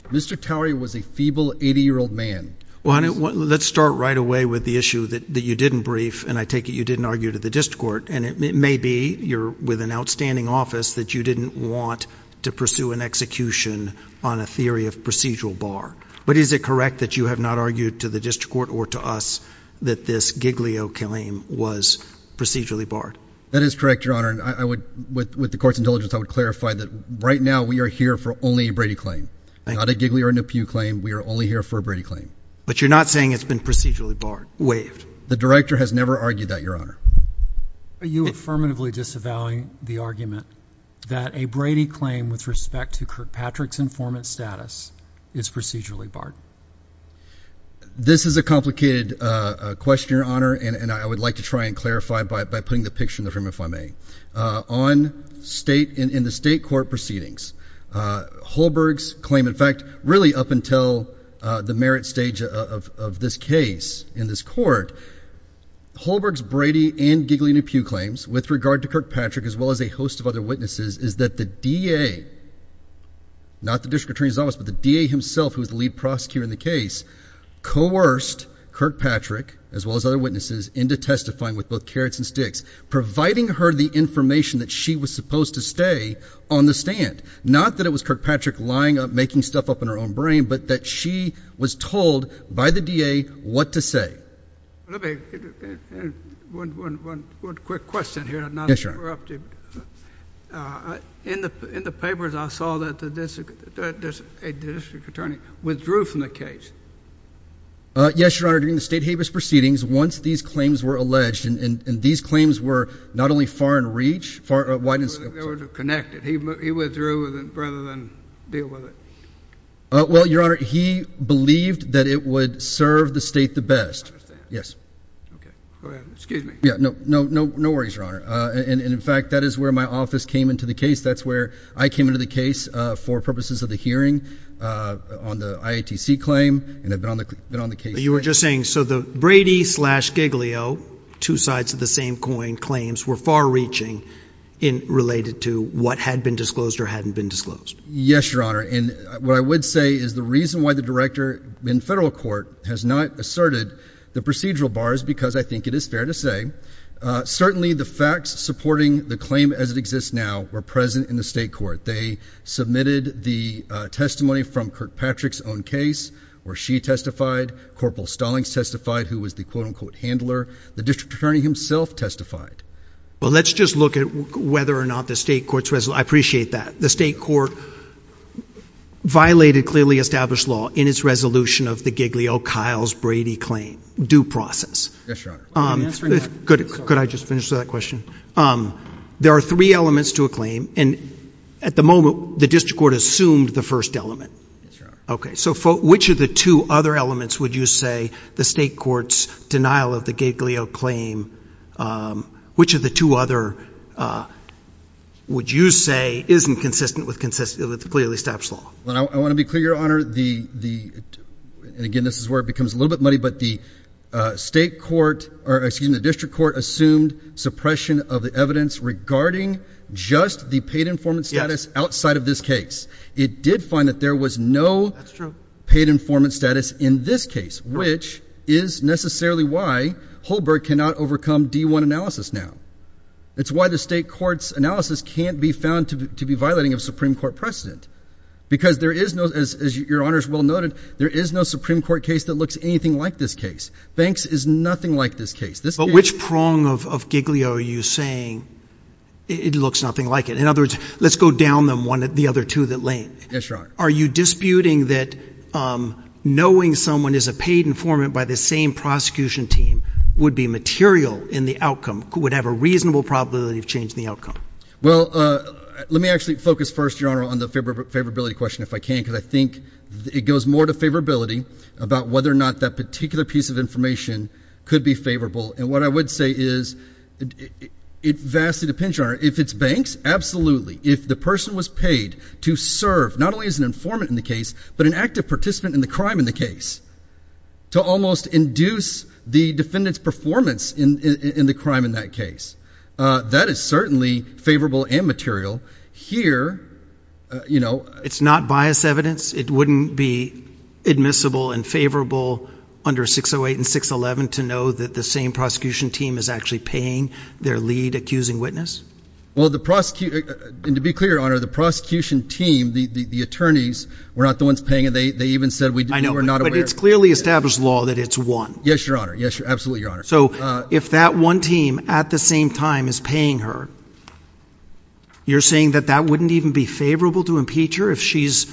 Mr. Cowery was a feeble 80-year-old man. Let's start right away with the issue that you didn't brief, and I take it you didn't argue to the district court, and it may be you're with an outstanding office that you didn't want to pursue an execution on a theory of procedural bar. But is it correct that you have not argued to the district court or to us that this giglio claim was procedurally barred? That is correct, Your Honor. I would, with the court's indulgence, I would clarify that right now we are here for only a Brady claim, not a giglio or nepew claim. We are only here for a Brady claim. But you're not saying it's been procedurally barred, waived? The director has never argued that, Your Honor. Are you affirmatively disavowing the argument that a Brady claim with respect to Kirkpatrick's informant status is procedurally barred? This is a complicated question, Your Honor, and I would like to try and clarify it by putting the picture in the room, if I may. In the state court proceedings, Holberg's claim, in fact, really up until the merit stage of this case in this court, Holberg's Brady and giglio nepew claims with regard to Kirkpatrick, as well as a host of other witnesses, is that the DA, not the district attorney's office, but the DA himself, who is the lead prosecutor in the case, coerced Kirkpatrick, as well as other witnesses, into testifying with both carrots and sticks, providing her the information that she was supposed to stay on the stand. Not that it was Kirkpatrick lying up, making stuff up in her own brain, but that she was told by the DA what to say. One quick question here. Yes, Your Honor. In the papers, I saw that a district attorney withdrew from the case. Yes, Your Honor. During the state habeas proceedings, once these claims were alleged, and these claims were not only far in reach, Why didn't the district attorney connect it? He withdrew rather than deal with it. Well, Your Honor, he believed that it would serve the state the best. Yes. Excuse me. No worries, Your Honor. In fact, that is where my office came into the case. That's where I came into the case for purposes of the hearing on the IATC claim. You were just saying, so the Brady slash giglio, two sides of the same coin claims, Yes, Your Honor. And what I would say is the reason why the director in federal court has not asserted the procedural bar is because I think it is fair to say. Certainly, the facts supporting the claim as it exists now are present in the state court. They submitted the testimony from Kirkpatrick's own case where she testified. Corporal Stallings testified, who was the quote unquote handler. The district attorney himself testified. Well, let's just look at whether or not the state courts. I appreciate that. The state court violated clearly established law in its resolution of the giglio Kyle's Brady claim due process. Yes, Your Honor. Could I just finish that question? There are three elements to a claim. And at the moment, the district court assumed the first element. Okay. So which of the two other elements would you say the state court's denial of the giglio claim, which of the two other would you say isn't consistent with clearly established law? I want to be clear, Your Honor. Again, this is where it becomes a little bit muddy. But the state court, or excuse me, the district court assumed suppression of the evidence regarding just the paid informant status outside of this case. It did find that there was no paid informant status in this case, which is necessarily why Holberg cannot overcome D1 analysis now. It's why the state court's analysis can't be found to be violating of Supreme Court precedent. Because there is no, as Your Honor has well noted, there is no Supreme Court case that looks anything like this case. Banks is nothing like this case. But which prong of giglio are you saying it looks nothing like it? In other words, let's go down the other two that link. That's right. Are you disputing that knowing someone is a paid informant by the same prosecution team would be material in the outcome, would have a reasonable probability of changing the outcome? Well, let me actually focus first, Your Honor, on the favorability question if I can, because I think it goes more to favorability about whether or not that particular piece of information could be favorable. And what I would say is it vastly depends, Your Honor. If it's banks, absolutely. If the person was paid to serve not only as an informant in the case, but an active participant in the crime in the case, to almost induce the defendant's performance in the crime in that case, that is certainly favorable and material. Here, you know. It's not biased evidence? It wouldn't be admissible and favorable under 608 and 611 to know that the same prosecution team is actually paying their lead accusing witness? Well, to be clear, Your Honor, the prosecution team, the attorneys, were not the ones paying. They even said we were not aware. But it's clearly established law that it's one. Yes, Your Honor. Absolutely, Your Honor. So if that one team at the same time is paying her, you're saying that that wouldn't even be favorable to impeach her? If she's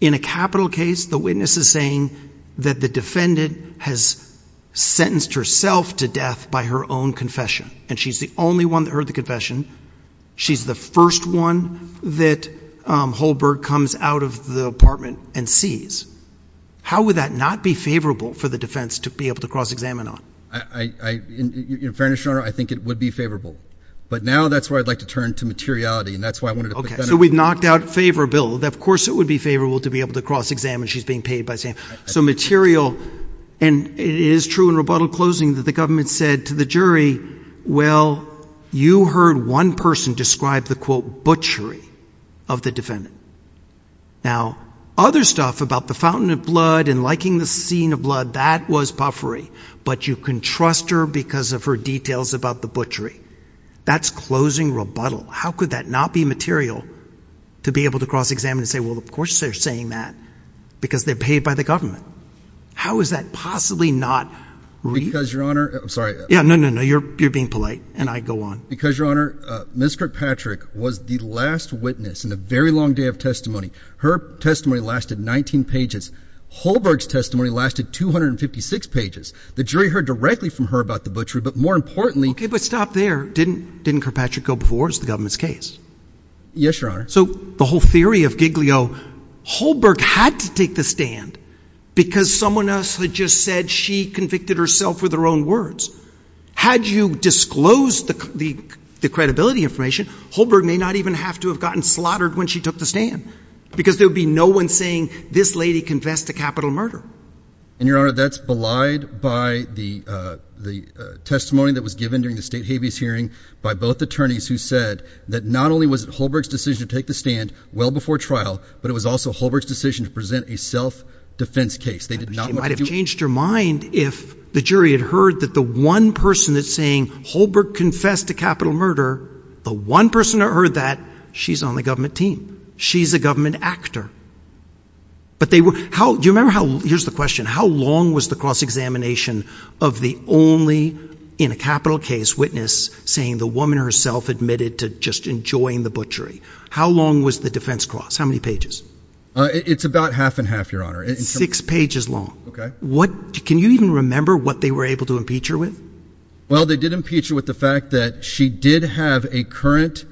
in a capital case, the witness is saying that the defendant has sentenced herself to death by her own confession, and she's the only one to earn the confession, she's the first one that Holberg comes out of the apartment and sees, how would that not be favorable for the defense to be able to cross-examine her? In fairness, Your Honor, I think it would be favorable. But now that's where I'd like to turn to materiality, and that's why I wanted to put that in front of you. Okay. So we've knocked out favor, Bill. Of course it would be favorable to be able to cross-examine she's being paid by Sam. So material, and it is true in rebuttal closings that the government said to the jury, well, you heard one person describe the, quote, butchery of the defendant. Now, other stuff about the fountain of blood and liking the scene of blood, that was puffery. But you can trust her because of her details about the butchery. That's closing rebuttal. How could that not be material to be able to cross-examine and say, well, of course they're saying that, because they're paid by the government. How is that possibly not reasonable? Because, Your Honor, I'm sorry. No, no, no. You're being polite, and I go on. Because, Your Honor, Ms. Kirkpatrick was the last witness in a very long day of testimony. Her testimony lasted 19 pages. Holberg's testimony lasted 256 pages. The jury heard directly from her about the butchery, but more importantly – Okay, but stop there. Didn't Kirkpatrick go before as the government's case? Yes, Your Honor. So the whole theory of Giglio, Holberg had to take the stand, because someone else had just said she convicted herself with her own words. Had you disclosed the credibility information, Holberg may not even have to have gotten slaughtered when she took the stand, because there would be no one saying, this lady confessed to capital murder. And, Your Honor, that's belied by the testimony that was given during the state habeas hearing by both attorneys who said that not only was it Holberg's decision to take the stand well before trial, but it was also Holberg's decision to present a self-defense case. She might have changed her mind if the jury had heard that the one person that's saying Holberg confessed to capital murder, the one person that heard that, she's on the government team. She's a government actor. Do you remember, here's the question, how long was the cross-examination of the only, in a capital case, witness saying the woman herself admitted to just enjoying the butchery? How long was the defense cross? How many pages? It's about half and half, Your Honor. Six pages long. Okay. Can you even remember what they were able to impeach her with? Well, they did impeach her with the fact that she did have a current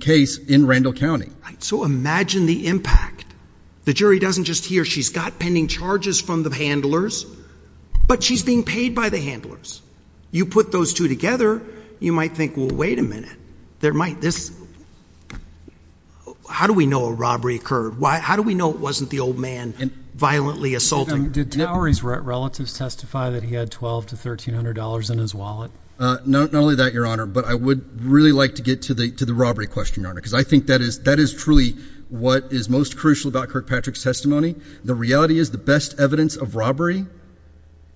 case in Randall County. So imagine the impact. The jury doesn't just hear she's got pending charges from the handlers, but she's being paid by the handlers. You put those two together, you might think, well, wait a minute. There might, this, how do we know a robbery occurred? How do we know it wasn't the old man violently assaulting her? Did Towery's relatives testify that he had $1,200 to $1,300 in his wallet? Not only that, Your Honor, but I would really like to get to the robbery question, Your Honor, because I think that is truly what is most crucial about Kirkpatrick's testimony. The reality is the best evidence of robbery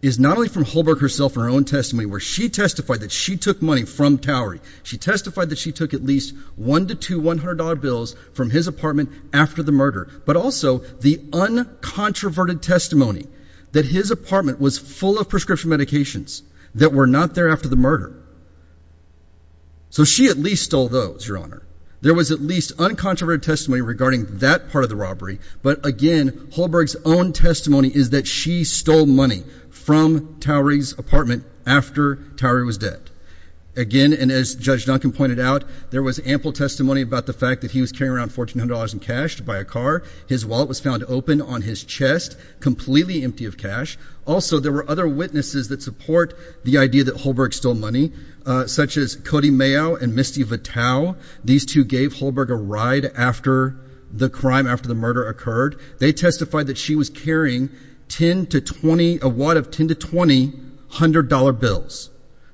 is not only from Holbrook herself in her own testimony, where she testified that she took money from Towery. She testified that she took at least one to two $100 bills from his apartment after the murder, but also the uncontroverted testimony that his apartment was full of prescription medications that were not there after the murder. So she at least stole those, Your Honor. There was at least uncontroverted testimony regarding that part of the robbery, but again, Holbrook's own testimony is that she stole money from Towery's apartment after Towery was dead. Again, and as Judge Duncan pointed out, there was ample testimony about the fact that he was carrying around $1,400 in cash to buy a car. His wallet was found open on his chest, completely empty of cash. Also, there were other witnesses that support the idea that Holbrook stole money, such as Cody Mayo and Misty Vitale. These two gave Holbrook a ride after the crime, after the murder occurred. They testified that she was carrying a wad of $10 to $20 hundred-dollar bills,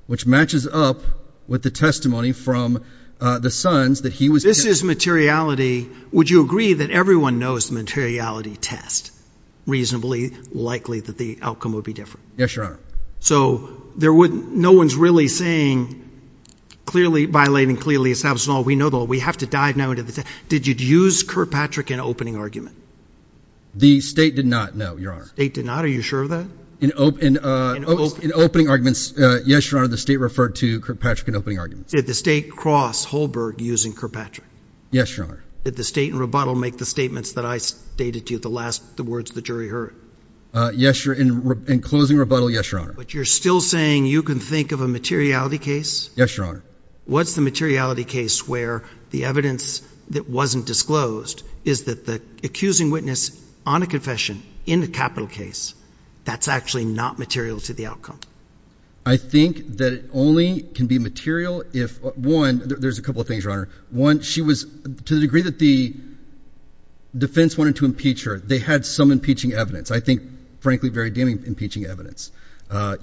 which matches up with the testimony from the Sons that he was carrying. If this is materiality, would you agree that everyone knows materiality tests? Reasonably likely that the outcome would be different. Yes, Your Honor. So no one's really saying clearly, violating clearly, we know that we have to dive now into the test. Did you use Kirkpatrick in opening argument? The State did not, no, Your Honor. The State did not? Are you sure of that? In opening arguments, yes, Your Honor, the State referred to Kirkpatrick in opening arguments. Did the State cross Holbrook using Kirkpatrick? Yes, Your Honor. Did the State in rebuttal make the statements that I stated to you, the words the jury heard? Yes, Your Honor. In closing rebuttal, yes, Your Honor. But you're still saying you can think of a materiality case? Yes, Your Honor. What's the materiality case where the evidence that wasn't disclosed is that the accusing witness on a confession in the capital case, that's actually not material to the outcome? I think that it only can be material if, one, there's a couple of things, Your Honor. One, she was, to the degree that the defense wanted to impeach her, they had some impeaching evidence. I think, frankly, very good impeaching evidence.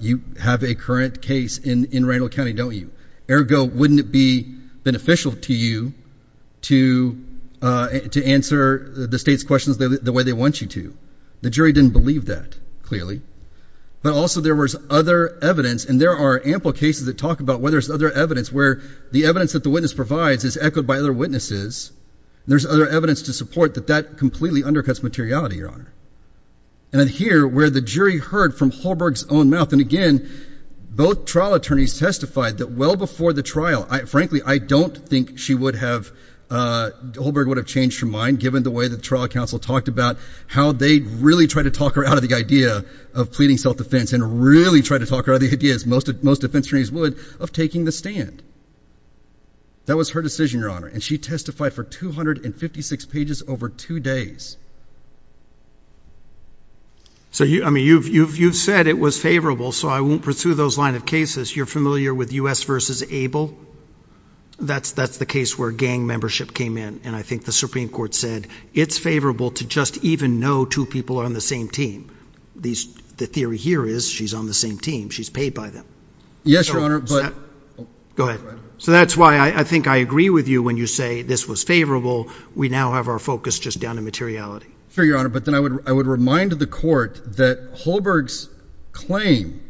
You have a current case in Raynald County, don't you? Ergo, wouldn't it be beneficial to you to answer the State's questions the way they want you to? The jury didn't believe that, clearly. Now, also, there was other evidence, and there are ample cases that talk about where there's other evidence, where the evidence that the witness provides is echoed by other witnesses. There's other evidence to support that that completely undercuts materiality, Your Honor. And here, where the jury heard from Holberg's own mouth, and again, both trial attorneys testified that well before the trial, frankly, I don't think she would have, Holberg would have changed her mind, given the way the trial counsel talked about how they really tried to talk her out of the idea of pleading self-defense and really tried to talk her out of the idea, as most defense attorneys would, of taking the stand. That was her decision, Your Honor, and she testified for 256 pages over two days. So, I mean, you've said it was favorable, so I won't pursue those line of cases. You're familiar with U.S. v. Abel? That's the case where gang membership came in, and I think the Supreme Court said it's favorable to just even know two people are on the same team. The theory here is she's on the same team. She's paid by them. Yes, Your Honor, but— Go ahead. So that's why I think I agree with you when you say this was favorable. We now have our focus just down to materiality. Sure, Your Honor, but then I would remind the court that Holberg's claim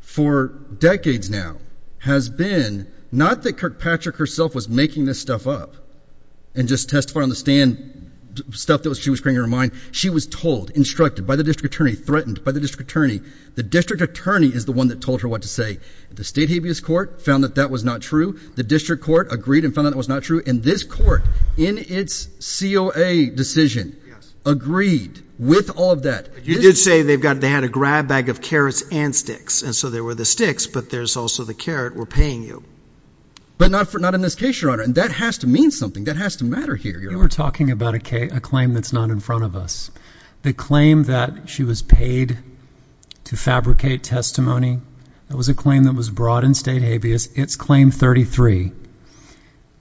for decades now has been not that Kirkpatrick herself was making this stuff up and just testifying on the stand, stuff that she was carrying in her mind. She was told, instructed by the district attorney, threatened by the district attorney. The district attorney is the one that told her what to say. The state habeas court found that that was not true. The district court agreed and found that that was not true. And this court, in its COA decision, agreed with all of that. You did say they had a grab bag of carrots and sticks, and so there were the sticks, but there's also the carrot. We're paying you. But not in this case, Your Honor, and that has to mean something. That has to matter here, Your Honor. We were talking about a claim that's not in front of us. The claim that she was paid to fabricate testimony, that was a claim that was brought in state habeas. It's claim 33.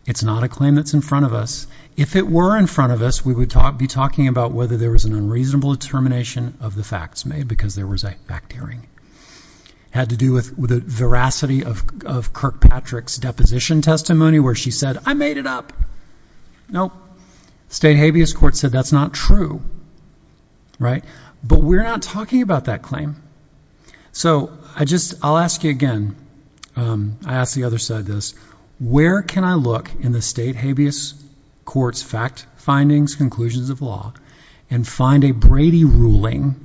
It's not a claim that's in front of us. If it were in front of us, we would be talking about whether there was an unreasonable determination of the facts made because there was a fact hearing. It had to do with the veracity of Kirkpatrick's deposition testimony where she said, I made it up. Nope. State habeas court said that's not true, right? But we're not talking about that claim. So I'll ask you again. I ask the other side this. Where can I look in the state habeas court's fact findings, conclusions of law, and find a Brady ruling,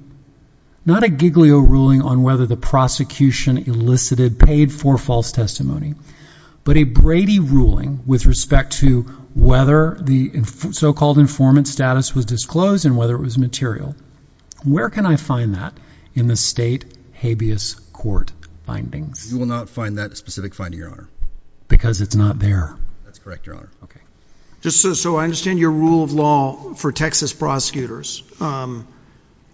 not a Giglio ruling on whether the prosecution elicited paid for false testimony, but a Brady ruling with respect to whether the so-called informant status was disclosed and whether it was material? Where can I find that in the state habeas court findings? You will not find that specific finding, Your Honor. Because it's not there. That's correct, Your Honor. Okay. Just so I understand your rule of law for Texas prosecutors,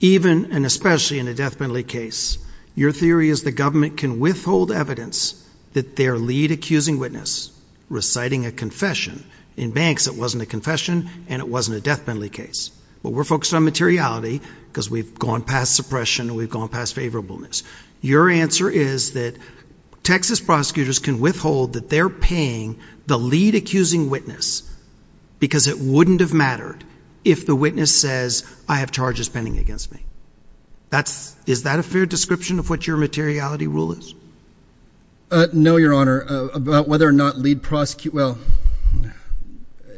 even and especially in a death penalty case, your theory is the government can withhold evidence that their lead accusing witness reciting a confession. In banks, it wasn't a confession and it wasn't a death penalty case. But we're focused on materiality because we've gone past suppression and we've gone past favorableness. Your answer is that Texas prosecutors can withhold that they're paying the lead accusing witness because it wouldn't have mattered if the witness says, I have charges pending against me. Is that a fair description of what your materiality rule is? No, Your Honor. About whether or not lead prosecute, well,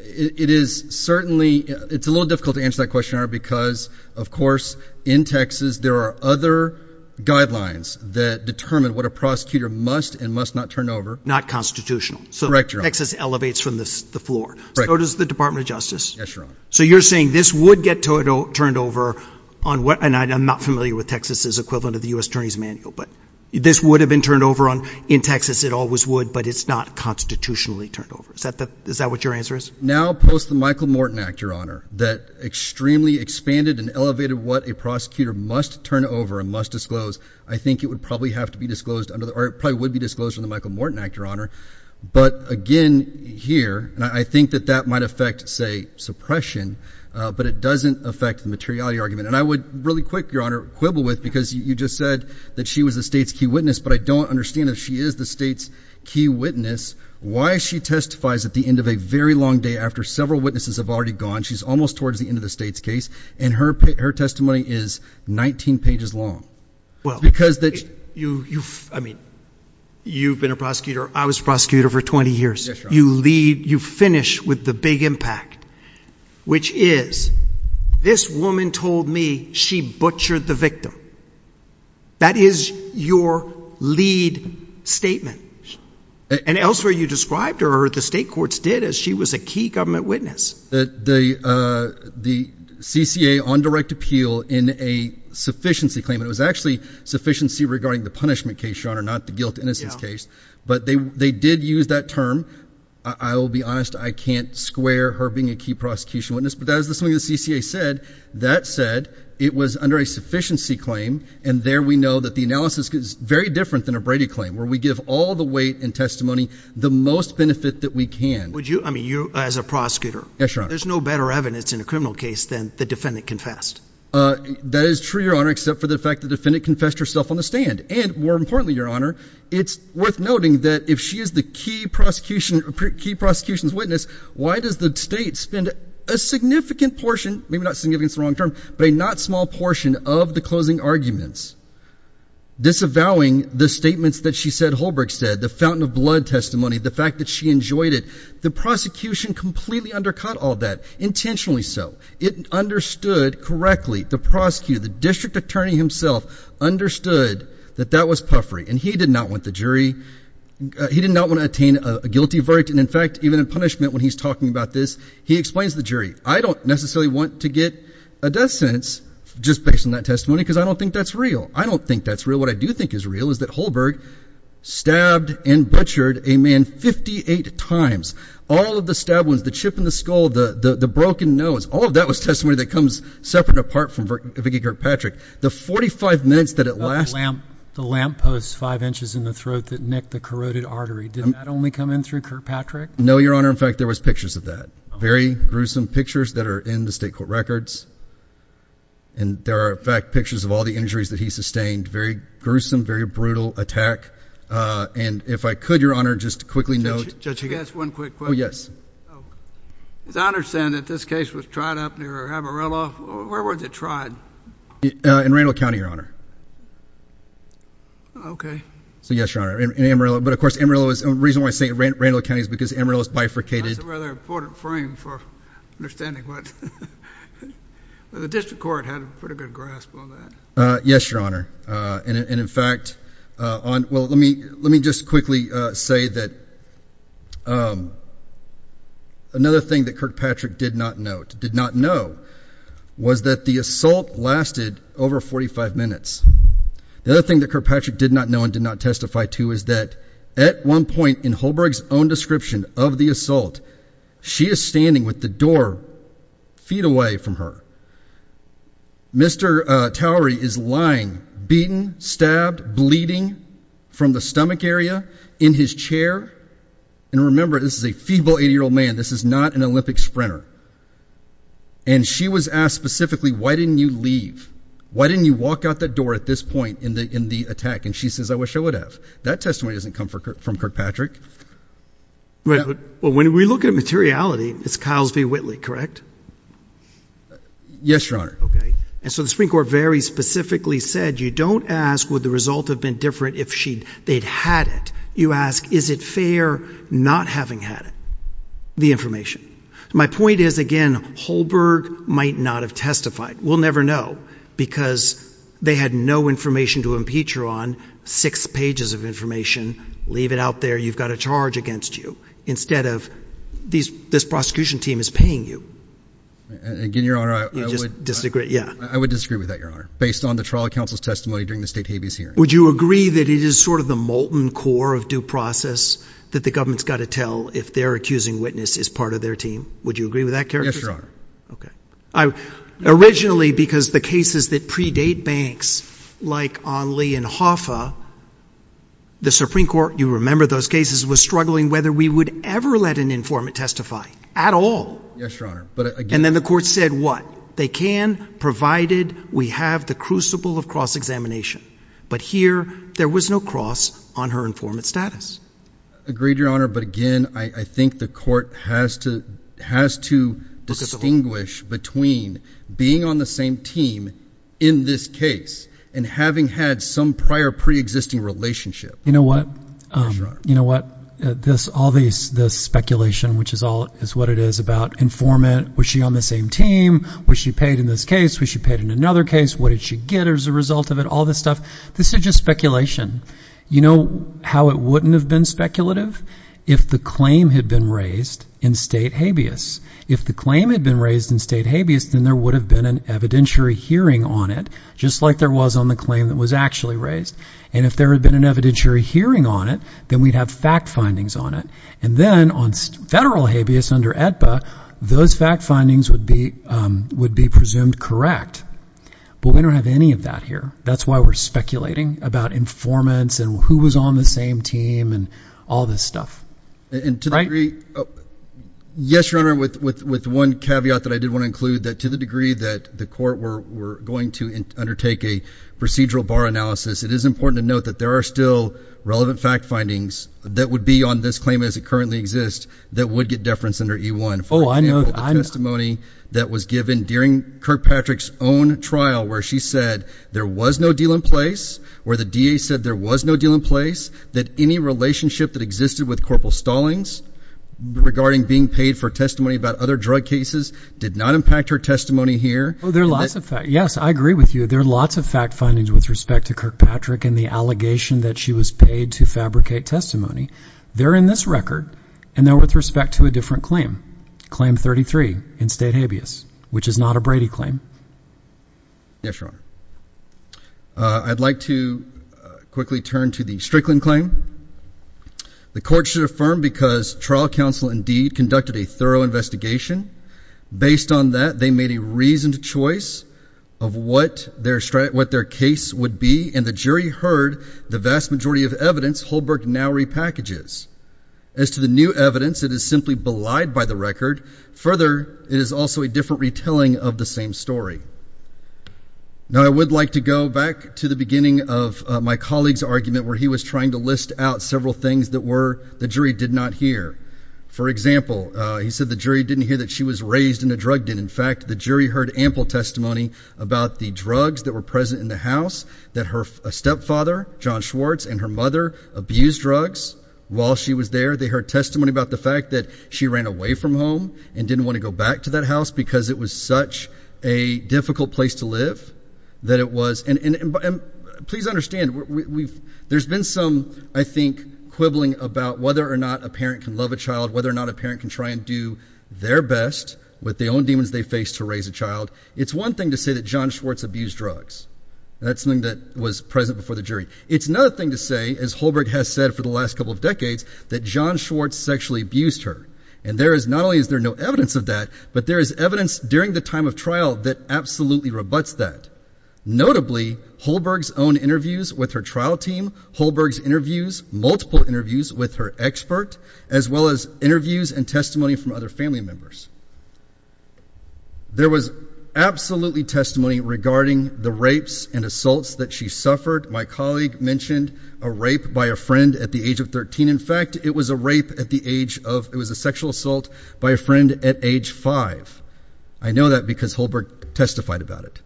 it is certainly, it's a little difficult to answer that question, Your Honor, because, of course, in Texas there are other guidelines that determine what a prosecutor must and must not turn over. Not constitutional. Correct, Your Honor. So Texas elevates from the floor. Correct. So does the Department of Justice. Yes, Your Honor. So you're saying this would get turned over on what, and I'm not familiar with Texas' equivalent of the U.S. Attorney's Manual, but this would have been turned over on, in Texas it always would, but it's not constitutionally turned over. Is that what your answer is? Now, post the Michael Morton Act, Your Honor, that extremely expanded and elevated what a prosecutor must turn over and must disclose, I think it would probably have to be disclosed, or it probably would be disclosed under the Michael Morton Act, Your Honor. But, again, here, I think that that might affect, say, suppression, but it doesn't affect the materiality argument. And I would really quick, Your Honor, quibble with, because you just said that she was the state's key witness, but I don't understand that she is the state's key witness. Why she testifies at the end of a very long day after several witnesses have already gone, she's almost towards the end of the state's case, and her testimony is 19 pages long. Well, I mean, you've been a prosecutor, I was a prosecutor for 20 years. You lead, you finish with the big impact, which is, this woman told me she butchered the victim. That is your lead statement. And elsewhere you described her, or the state courts did, as she was a key government witness. The CCA on direct appeal in a sufficiency claim, it was actually sufficiency regarding the punishment case, Your Honor, not the guilt-to-innocence case, but they did use that term. I will be honest, I can't square her being a key prosecution witness, but that is something the CCA said. That said, it was under a sufficiency claim, and there we know that the analysis is very different than a Brady claim, where we give all the weight and testimony, the most benefit that we can. Would you, I mean, you as a prosecutor, there's no better evidence in a criminal case than the defendant confessed. That is true, Your Honor, except for the fact the defendant confessed herself on the stand. And more importantly, Your Honor, it's worth noting that if she is the key prosecution's witness, why does the state spend a significant portion, maybe not significant is the wrong term, but a not small portion of the closing arguments disavowing the statements that she said Holbrook said, the fountain of blood testimony, the fact that she enjoyed it. The prosecution completely undercut all that, intentionally so. It understood correctly, the prosecutor, the district attorney himself understood that that was puffery, and he did not want the jury, he did not want to attain a guilty verdict, and in fact, even in punishment when he's talking about this, he explains to the jury, I don't necessarily want to get a death sentence just based on that testimony because I don't think that's real. I don't think that's real. What I do think is real is that Holbrook stabbed and butchered a man 58 times. All of the stab wounds, the chip in the skull, the broken nose, all of that was testimony that comes separate apart from Vicki Kirkpatrick. The 45 minutes that it lasted. The lamp post five inches in the throat that nicked the corroded artery, did that only come in through Kirkpatrick? No, Your Honor. In fact, there was pictures of that, very gruesome pictures that are in the state court records, and there are, in fact, pictures of all the injuries that he sustained. Very gruesome, very brutal attack, and if I could, Your Honor, just quickly note. Judge, just one quick question. Oh, yes. As I understand it, this case was tried up near Amarillo. Where was it tried? In Randall County, Your Honor. Okay. So, yes, Your Honor, in Amarillo. But, of course, Amarillo is, the reason why I say Randall County is because Amarillo is bifurcated. It's a rather important frame for understanding what the district court had a pretty good grasp on that. Yes, Your Honor. And, in fact, well, let me just quickly say that another thing that Kirkpatrick did not know was that the assault lasted over 45 minutes. The other thing that Kirkpatrick did not know and did not testify to was that at one point in Holberg's own description of the assault, she is standing with the door feet away from her. Mr. Towery is lying, beaten, stabbed, bleeding from the stomach area in his chair. And remember, this is a feeble 80-year-old man. This is not an Olympic sprinter. And she was asked specifically, why didn't you leave? Why didn't you walk out that door at this point in the attack? And she says, I wish I would have. That testimony doesn't come from Kirkpatrick. Well, when we look at materiality, it's Kyles v. Whitley, correct? Yes, Your Honor. Okay. And so the Supreme Court very specifically said, you don't ask would the result have been different if they'd had it. You ask, is it fair not having had it, the information? My point is, again, Holberg might not have testified. We'll never know, because they had no information to impeach her on, six pages of information, leave it out there, you've got a charge against you, instead of this prosecution team is paying you. Again, Your Honor, I would disagree with that, Your Honor, based on the trial counsel's testimony during the state's hearing. Would you agree that it is sort of the molten core of due process that the government's got to tell if their accusing witness is part of their team? Would you agree with that character? Yes, Your Honor. Okay. Originally, because the cases that predate Banks, like on Lee and Hoffa, the Supreme Court, you remember those cases, was struggling whether we would ever let an informant testify, at all. Yes, Your Honor. And then the court said what? They can, provided we have the crucible of cross-examination. But here, there was no cross on her informant status. Agreed, Your Honor. But again, I think the court has to distinguish between being on the same team in this case and having had some prior pre-existing relationship. You know what? Sure. You know what, all this speculation, which is what it is about informant, was she on the same team, was she paid in this case, was she paid in another case, what did she get as a result of it, all this stuff, this is just speculation. You know how it wouldn't have been speculative? If the claim had been raised in state habeas. If the claim had been raised in state habeas, then there would have been an evidentiary hearing on it, just like there was on the claim that was actually raised. And if there had been an evidentiary hearing on it, then we'd have fact findings on it. And then, on federal habeas under AEDPA, those fact findings would be presumed correct. But we don't have any of that here. That's why we're speculating about informants and who was on the same team and all this stuff. And to the degree, yes, Your Honor, with one caveat that I did want to include, that to the degree that the court were going to undertake a procedural bar analysis, it is important to note that there are still relevant fact findings that would be on this claim as it currently exists that would get deference under E1. Oh, I know, I know. that was given during Kirkpatrick's own trial where she said there was no deal in place, where the DA said there was no deal in place, that any relationship that existed with Corporal Stallings regarding being paid for testimony about other drug cases did not impact her testimony here. Oh, there are lots of facts. Yes, I agree with you. There are lots of fact findings with respect to Kirkpatrick and the allegation that she was paid to fabricate testimony. They're in this record, and they're with respect to a different claim, Claim 33 in State Habeas, which is not a Brady claim. Yes, Your Honor. I'd like to quickly turn to the Strickland claim. The court should affirm because trial counsel indeed conducted a thorough investigation. Based on that, they made a reasoned choice of what their case would be, and the jury heard the vast majority of evidence Holberg now repackages. As to the new evidence, it is simply belied by the record. Further, it is also a different retelling of the same story. Now, I would like to go back to the beginning of my colleague's argument where he was trying to list out several things that the jury did not hear. For example, he said the jury didn't hear that she was raised in a drug den. In fact, the jury heard ample testimony about the drugs that were present in the house, that her stepfather, John Schwartz, and her mother abused drugs while she was there. They heard testimony about the fact that she ran away from home and didn't want to go back to that house because it was such a difficult place to live. Please understand, there's been some, I think, quibbling about whether or not a parent can love a child, whether or not a parent can try and do their best with the own demons they face to raise a child. It's one thing to say that John Schwartz abused drugs. That's something that was present before the jury. It's another thing to say, as Holberg has said for the last couple of decades, that John Schwartz sexually abused her. And there is not only is there no evidence of that, but there is evidence during the time of trial that absolutely rebuts that. Notably, Holberg's own interviews with her trial team, Holberg's interviews, multiple interviews with her expert, as well as interviews and testimony from other family members. There was absolutely testimony regarding the rapes and assaults that she suffered. My colleague mentioned a rape by a friend at the age of 13. In fact, it was a rape at the age of, it was a sexual assault by a friend at age 5. I know that because Holberg testified about it.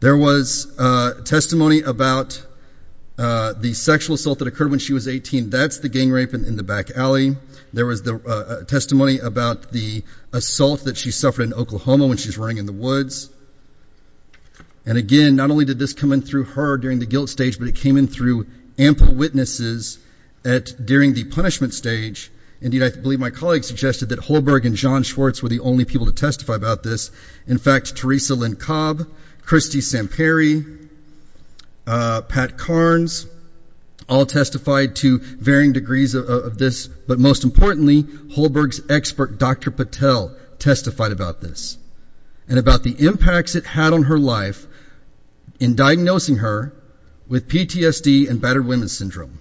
There was testimony about the sexual assault that occurred when she was 18. That's the gang rape in the back alley. There was testimony about the assault that she suffered in Oklahoma when she was running in the woods. And again, not only did this come in through her during the guilt stage, but it came in through ample witnesses during the punishment stage. Indeed, I believe my colleague suggested that Holberg and John Schwartz were the only people to testify about this. In fact, Teresa Lynn Cobb, Christy Samperi, Pat Carnes, all testified to varying degrees of this. But most importantly, Holberg's expert, Dr. Patel, testified about this and about the impacts it had on her life in diagnosing her with PTSD and battered women's syndrome.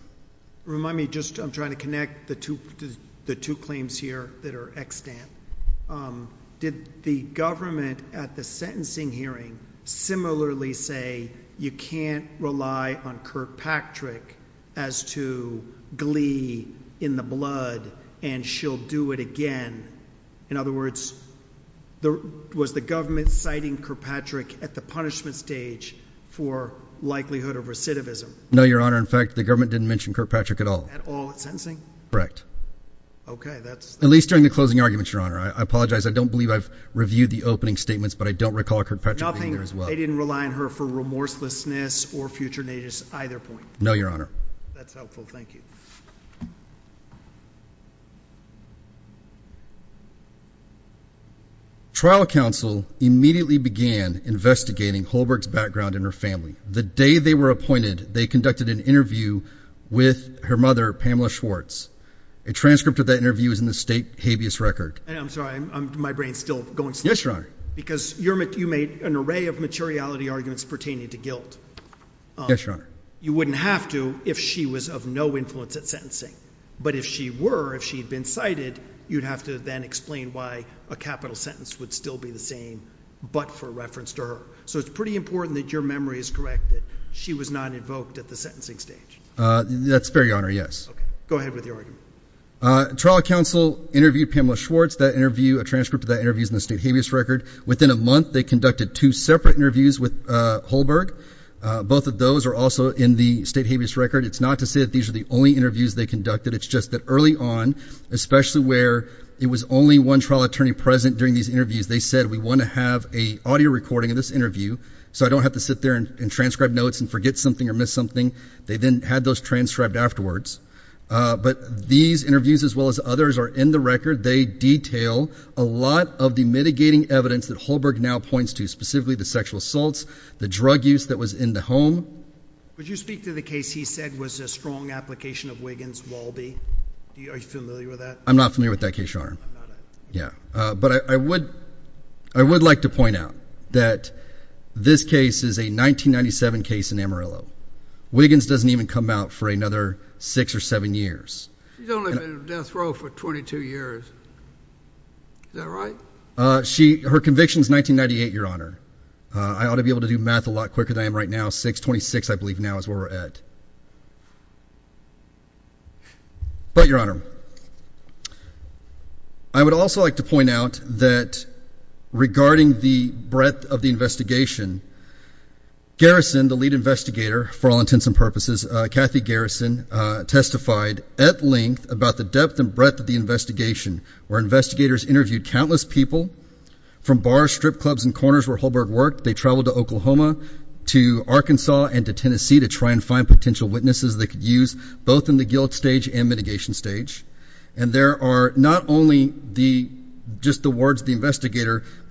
Remind me, just I'm trying to connect the two claims here that are extant. Did the government at the sentencing hearing similarly say you can't rely on Kirkpatrick as to glee in the blood and she'll do it again? In other words, was the government citing Kirkpatrick at the punishment stage for likelihood of recidivism? No, Your Honor. In fact, the government didn't mention Kirkpatrick at all. At all at sentencing? Correct. Okay, that's... At least during the closing arguments, Your Honor. I apologize. I don't believe I've reviewed the opening statements, but I don't recall Kirkpatrick being there as well. Nothing, they didn't rely on her for remorselessness or future natures at either point. No, Your Honor. That's helpful. Thank you. Trial counsel immediately began investigating Holberg's background and her family. The day they were appointed, they conducted an interview with her mother, Pamela Schwartz. A transcript of that interview is in the state habeas record. I'm sorry, my brain's still going slow. Yes, Your Honor. Because you made an array of materiality arguments pertaining to guilt. Yes, Your Honor. You wouldn't have to if she was of no influence at sentencing. But if she were, if she'd been cited, you'd have to then explain why a capital sentence would still be the same but for reference to her. So it's pretty important that your memory is correct that she was not invoked at the sentencing stage. That's fair, Your Honor, yes. Go ahead with your argument. Trial counsel interviewed Pamela Schwartz. That interview, a transcript of that interview is in the state habeas record. Within a month, they conducted two separate interviews with Holberg. Both of those are also in the state habeas record. It's not to say that these are the only interviews they conducted. It's just that early on, especially where there was only one trial attorney present during these interviews, they said we want to have an audio recording of this interview so I don't have to sit there and transcribe notes and forget something or miss something. They then had those transcribed afterwards. But these interviews as well as others are in the record. They detail a lot of the mitigating evidence that Holberg now points to, specifically the sexual assaults, the drug use that was in the home. Would you speak to the case he said was a strong application of Wiggins-Walby? Are you familiar with that? I'm not familiar with that case, Your Honor. Yeah. But I would like to point out that this case is a 1997 case in Amarillo. Wiggins doesn't even come out for another six or seven years. She's only been in death row for 22 years. Is that right? Her conviction is 1998, Your Honor. I ought to be able to do math a lot quicker than I am right now. 6-26, I believe, now is where we're at. But, Your Honor, I would also like to point out that regarding the breadth of the investigation, Garrison, the lead investigator, for all intents and purposes, Kathy Garrison, testified at length about the depth and breadth of the investigation, where investigators interviewed countless people from bars, strip clubs, and corners where Holberg worked. They traveled to Oklahoma, to Arkansas, and to Tennessee to try and find potential witnesses they could use both in the guilt stage and mitigation stage. And it was clear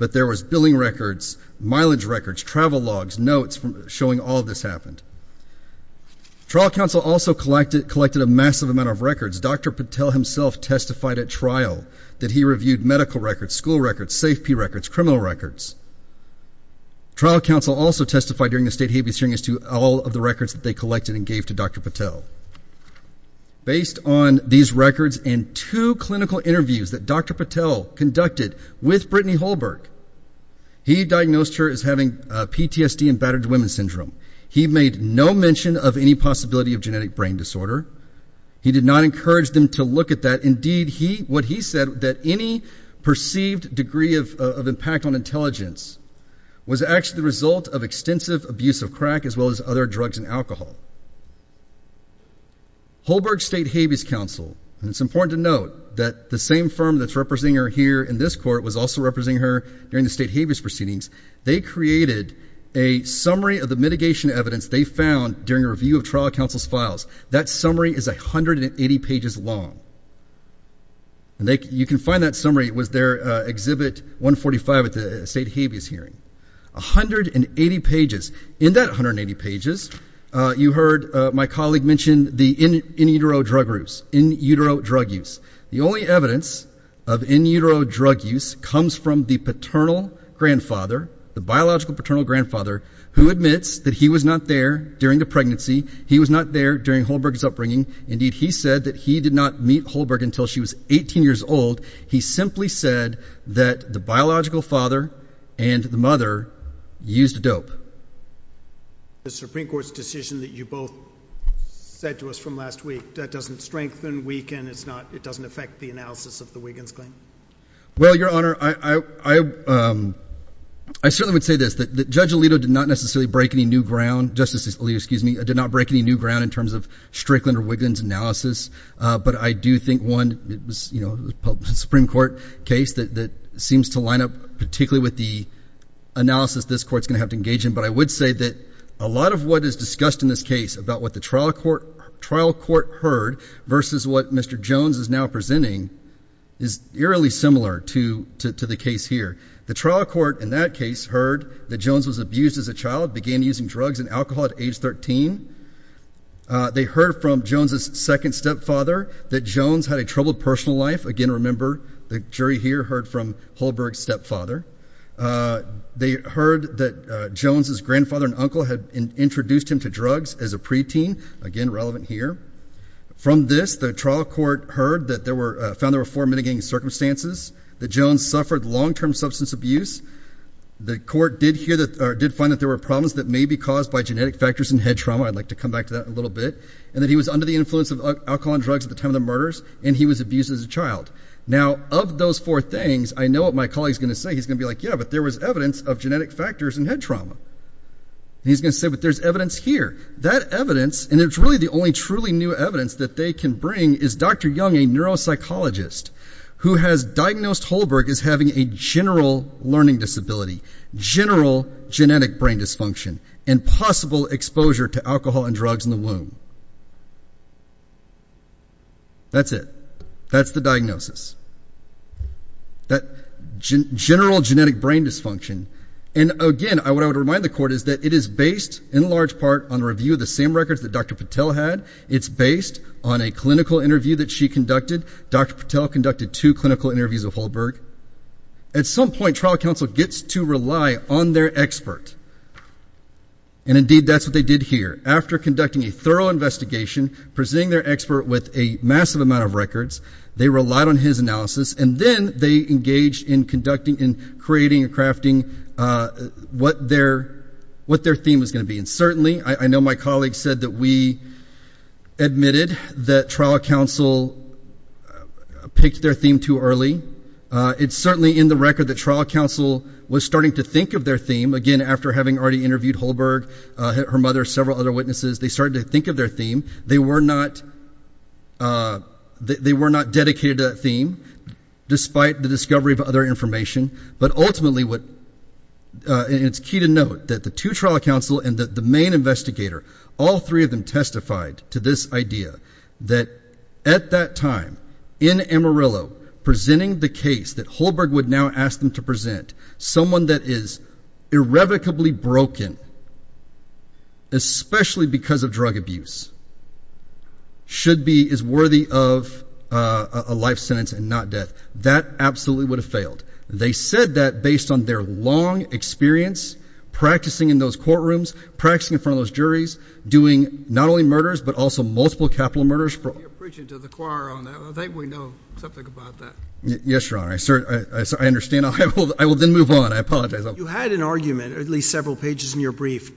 that there was billing records, mileage records, travel logs, notes showing all this happened. Trial counsel also collected a massive amount of records. Dr. Patel himself testified at trial that he reviewed medical records, school records, safety records, criminal records. Trial counsel also testified during the state hearing as to all of the records that they collected and gave to Dr. Patel. Based on these records and two clinical interviews that Dr. Patel conducted with Brittany Holberg, he diagnosed her as having PTSD and battered women syndrome. He made no mention of any possibility of genetic brain disorder. He did not encourage them to look at that. Indeed, what he said, that any perceived degree of impact on intelligence was actually the result of extensive abuse of crack as well as other drugs and alcohol. Holberg's state habeas counsel, and it's important to note that the same firm that's representing her here in this court was also representing her during the state habeas proceedings, they created a summary of the mitigation evidence they found during a review of trial counsel's files. That summary is 180 pages long. You can find that summary with their exhibit 145 at the state habeas hearing. 180 pages. In that 180 pages, you heard my colleague mention the in utero drug use. The only evidence of in utero drug use comes from the paternal grandfather, the biological paternal grandfather, who admits that he was not there during the pregnancy. He was not there during Holberg's upbringing. Indeed, he said that he did not meet Holberg until she was 18 years old. He simply said that the biological father and the mother used dope. The Supreme Court's decision that you both said to us from last week, that doesn't strengthen, weaken, it doesn't affect the analysis of the Wiggins claim? Well, Your Honor, I certainly would say this, that Judge Alito did not necessarily break any new ground, I did not break any new ground in terms of Strickland or Wiggins analysis, but I do think one, the Supreme Court case that seems to line up particularly with the analysis this court's going to have to engage in, but I would say that a lot of what is discussed in this case about what the trial court heard versus what Mr. Jones is now presenting is eerily similar to the case here. The trial court in that case heard that Jones was abused as a child, began using drugs and alcohol at age 13. They heard from Jones's second stepfather that Jones had a troubled personal life. Again, remember, the jury here heard from Holberg's stepfather. They heard that Jones's grandfather and uncle had introduced him to drugs as a preteen, again, relevant here. From this, the trial court heard that there were, found there were four mitigating circumstances, that Jones suffered long-term substance abuse. The court did find that there were problems that may be caused by genetic factors in head trauma. I'd like to come back to that in a little bit. And that he was under the influence of alcohol and drugs at the time of the murders, and he was abused as a child. Now, of those four things, I know what my colleague's going to say. He's going to be like, yeah, but there was evidence of genetic factors in head trauma. And he's going to say, but there's evidence here. That evidence, and it's really the only truly new evidence that they can bring, is Dr. Young, a neuropsychologist who has diagnosed Holberg as having a general learning disability, general genetic brain dysfunction, and possible exposure to alcohol and drugs in the womb. That's it. That's the diagnosis. That general genetic brain dysfunction. And, again, what I would remind the court is that it is based in large part on review of the same records that Dr. Patel had. It's based on a clinical interview that she conducted. Dr. Patel conducted two clinical interviews of Holberg. At some point, trial counsel gets to rely on their expert. And, indeed, that's what they did here. After conducting a thorough investigation, presenting their expert with a massive amount of records, they relied on his analysis, and then they engaged in creating and crafting what their theme was going to be. And, certainly, I know my colleague said that we admitted that trial counsel picked their theme too early. It's certainly in the record that trial counsel was starting to think of their theme, again, after having already interviewed Holberg, her mother, several other witnesses. They started to think of their theme. They were not dedicated to that theme, despite the discovery of other information. But, ultimately, it's key to note that the two trial counsel and the main investigator, all three of them testified to this idea that at that time, in Amarillo, presenting the case that Holberg would now ask them to present, someone that is irrevocably broken, especially because of drug abuse, is worthy of a life sentence and not death. That absolutely would have failed. They said that based on their long experience practicing in those courtrooms, practicing in front of those juries, doing not only murders, but also multiple capital murders. I think we know something about that. Yes, Your Honor. I understand. I will then move on. I apologize. You had an argument, at least several pages in your brief,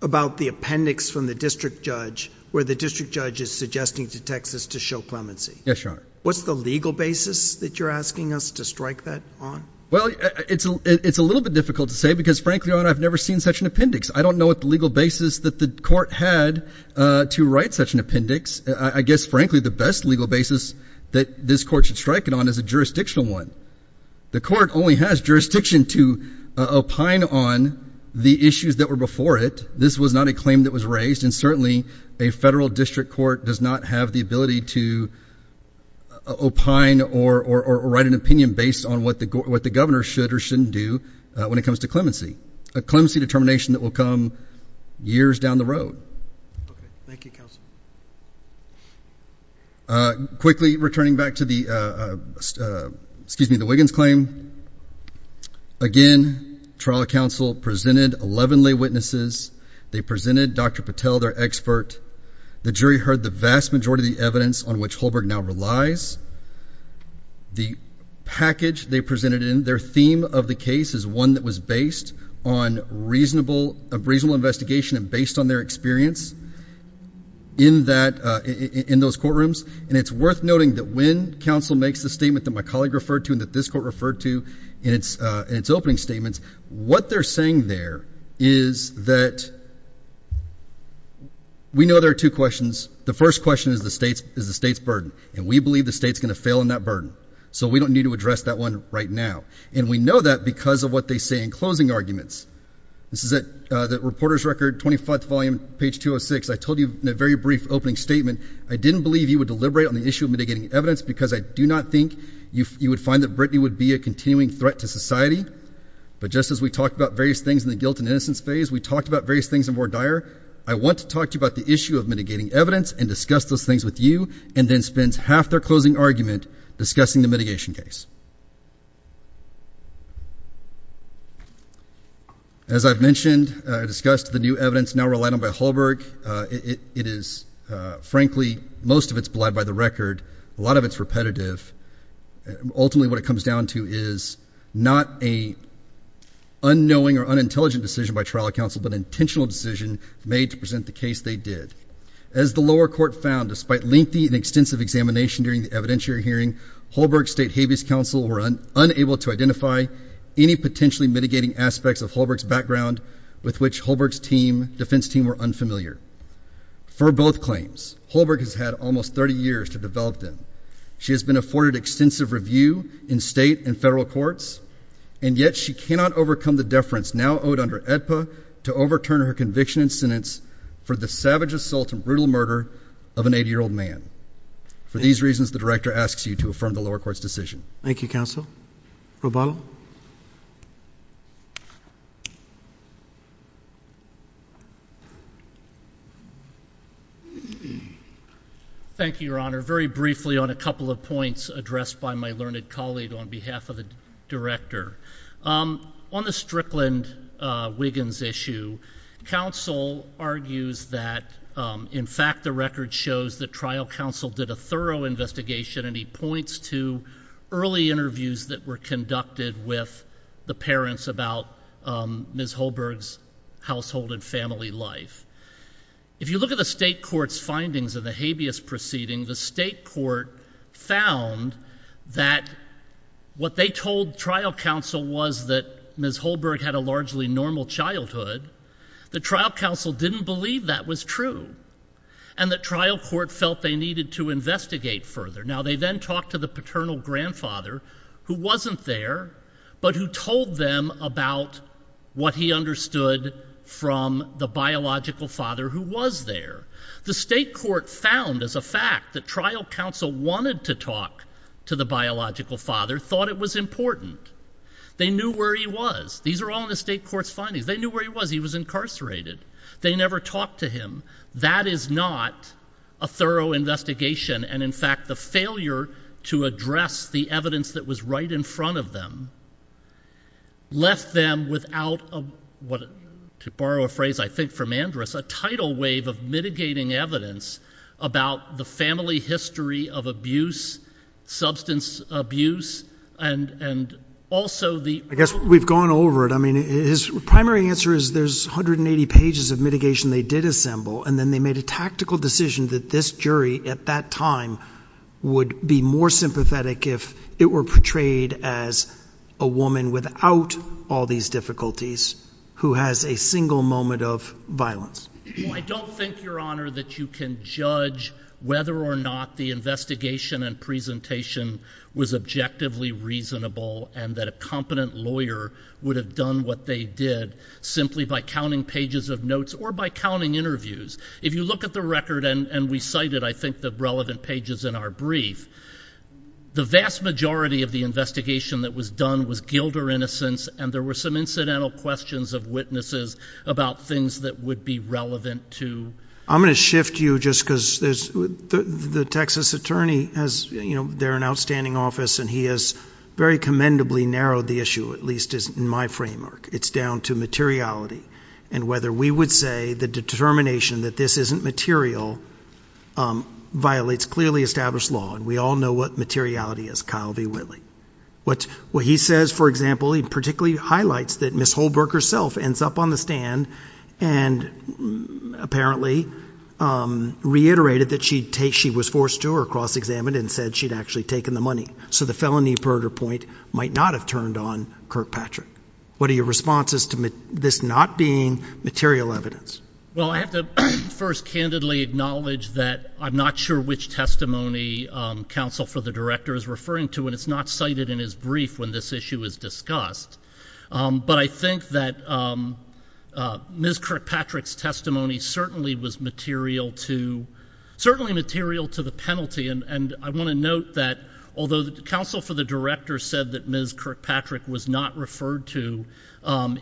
about the appendix from the district judge where the district judge is suggesting to Texas to show clemency. Yes, Your Honor. What's the legal basis that you're asking us to strike that on? Well, it's a little bit difficult to say because, frankly, Your Honor, I've never seen such an appendix. I don't know what the legal basis that the court had to write such an appendix. I guess, frankly, the best legal basis that this court should strike it on is a jurisdictional one. The court only has jurisdiction to opine on the issues that were before it. This was not a claim that was raised, and certainly a federal district court does not have the ability to opine or write an opinion based on what the governor should or shouldn't do when it comes to clemency, a clemency determination that will come years down the road. Thank you, counsel. Quickly, returning back to the Wiggins claim, again, trial counsel presented 11 lay witnesses. They presented Dr. Patel, their expert. The jury heard the vast majority of the evidence on which Holberg now relies. The package they presented in their theme of the case is one that was based on reasonable investigation and based on their experience in those courtrooms, and it's worth noting that when counsel makes the statement that my colleague referred to and that this court referred to in its opening statements, what they're saying there is that we know there are two questions. The first question is the state's burden, and we believe the state's going to fail in that burden, so we don't need to address that one right now, and we know that because of what they say in closing arguments. This is the reporter's record, 25th volume, page 206. I told you in a very brief opening statement, I didn't believe you would deliberate on the issue of mitigating evidence because I do not think you would find that Brittany would be a continuing threat to society, but just as we talked about various things in the guilt and innocence phase, we talked about various things in Ward Dyer. I want to talk to you about the issue of mitigating evidence and discuss those things with you and then spend half their closing argument discussing the mitigation case. As I've mentioned, I discussed the new evidence now relied on by Holberg. It is, frankly, most of it's bled by the record. A lot of it's repetitive. Ultimately, what it comes down to is not an unknowing or unintelligent decision by trial counsel, but an intentional decision made to present the case they did. As the lower court found, despite lengthy and extensive examination during the evidentiary hearing, Holberg's state habeas counsel were unable to identify any potentially mitigating aspects of Holberg's background with which Holberg's defense team were unfamiliar. For both claims, Holberg has had almost 30 years to develop them. She has been afforded extensive review in state and federal courts, and yet she cannot overcome the deference now owed under AEDPA to overturn her conviction and sentence for the savage assault and brutal murder of an 80-year-old man. For these reasons, the director asks you to affirm the lower court's decision. Thank you, counsel. Roboto? Thank you, Your Honor. Very briefly on a couple of points addressed by my learned colleague on behalf of the director. On the Strickland-Wiggins issue, counsel argues that, in fact, the record shows that trial counsel did a thorough investigation, and he points to early interviews that were conducted with the parents about Ms. Holberg's household and family life. If you look at the state court's findings of the habeas proceedings, the state court found that what they told trial counsel was that Ms. Holberg had a largely normal childhood. The trial counsel didn't believe that was true, and the trial court felt they needed to investigate further. Now, they then talked to the paternal grandfather, who wasn't there, but who told them about what he understood from the biological father who was there. The state court found as a fact that trial counsel wanted to talk to the biological father, thought it was important. They knew where he was. These are all in the state court's findings. They knew where he was. He was incarcerated. They never talked to him. That is not a thorough investigation, and, in fact, the failure to address the evidence that was right in front of them left them without what, to borrow a phrase I think from Andrus, a tidal wave of mitigating evidence about the family history of abuse, substance abuse, and also the— I guess we've gone over it. I mean, his primary answer is there's 180 pages of mitigation they did assemble, and then they made a tactical decision that this jury at that time would be more sympathetic if it were portrayed as a woman without all these difficulties who has a single moment of violence. I don't think, Your Honor, that you can judge whether or not the investigation and presentation was objectively reasonable and that a competent lawyer would have done what they did simply by counting pages of notes or by counting interviews. If you look at the record, and we cited, I think, the relevant pages in our brief, the vast majority of the investigation that was done was Gilder innocence, and there were some incidental questions of witnesses about things that would be relevant to— I'm going to shift you just because the Texas attorney has— they're an outstanding office, and he has very commendably narrowed the issue, at least in my framework. It's down to materiality and whether we would say the determination that this isn't material violates clearly established law, and we all know what materiality is, Kyle B. Whitley. What he says, for example, he particularly highlights that Ms. Holbrook herself ends up on the stand and apparently reiterated that she was forced to or cross-examined and said she'd actually taken the money, so the felony murder point might not have turned on Kirkpatrick. What are your responses to this not being material evidence? Well, I have to first candidly acknowledge that I'm not sure which testimony Counsel for the Director is referring to, and it's not cited in his brief when this issue is discussed, but I think that Ms. Kirkpatrick's testimony certainly was material to the penalty, and I want to note that although Counsel for the Director said that Ms. Kirkpatrick was not referred to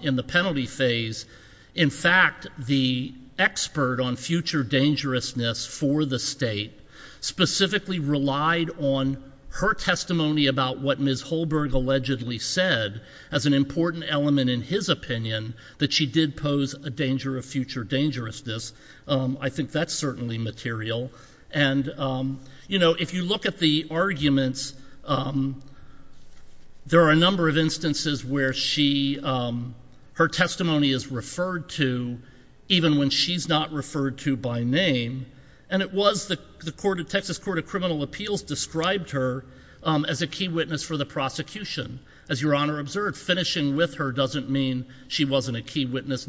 in the penalty phase, in fact the expert on future dangerousness for the state specifically relied on her testimony about what Ms. Holbrook allegedly said as an important element in his opinion that she did pose a danger of future dangerousness. I think that's certainly material, and if you look at the arguments, there are a number of instances where her testimony is referred to even when she's not referred to by name, and it was the Texas Court of Criminal Appeals described her as a key witness for the prosecution. As Your Honor observed, finishing with her doesn't mean she wasn't a key witness,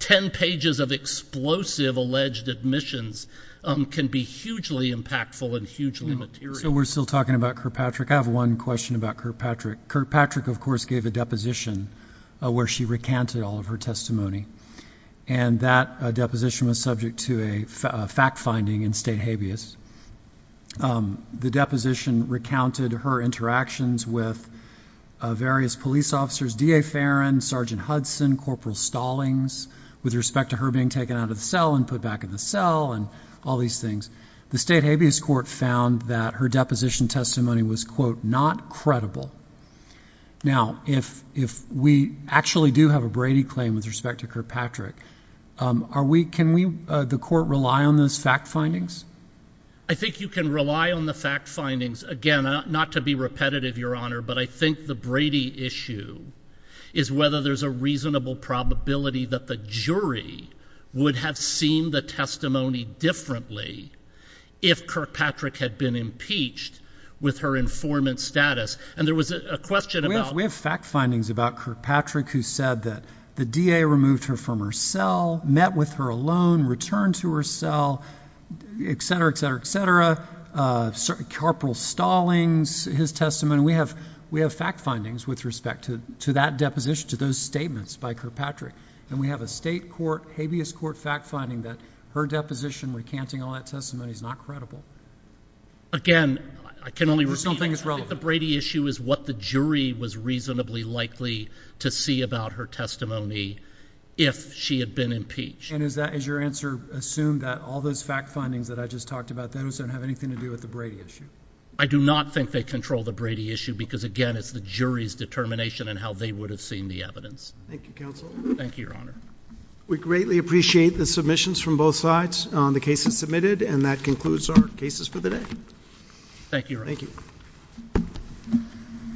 10 pages of explosive alleged admissions can be hugely impactful and hugely material. So we're still talking about Kirkpatrick. I have one question about Kirkpatrick. Kirkpatrick, of course, gave a deposition where she recanted all of her testimony, and that deposition was subject to a fact-finding in state habeas. The deposition recounted her interactions with various police officers, DA Farron, Sergeant Hudson, Corporal Stallings, with respect to her being taken out of the cell and put back in the cell and all these things. The state habeas court found that her deposition testimony was, quote, not credible. Now, if we actually do have a Brady claim with respect to Kirkpatrick, can we, the court, rely on those fact findings? I think you can rely on the fact findings. Again, not to be repetitive, Your Honor, but I think the Brady issue is whether there's a reasonable probability that the jury would have seen the testimony differently if Kirkpatrick had been impeached with her informant status. We have fact findings about Kirkpatrick who said that the DA removed her from her cell, met with her alone, returned to her cell, et cetera, et cetera, et cetera. Corporal Stallings, his testimony, we have fact findings with respect to that deposition, to those statements by Kirkpatrick. And we have a state habeas court fact finding that her deposition recanting all that testimony is not credible. Again, I can only reassure you that the Brady issue is what the jury was reasonably likely to see about her testimony if she had been impeached. And is that, is your answer assumed that all those fact findings that I just talked about, those don't have anything to do with the Brady issue? I do not think they control the Brady issue because, again, it's the jury's determination in how they would have seen the evidence. Thank you, counsel. Thank you, Your Honor. We greatly appreciate the submissions from both sides on the cases submitted, and that concludes our cases for today. Thank you, Your Honor. Thank you.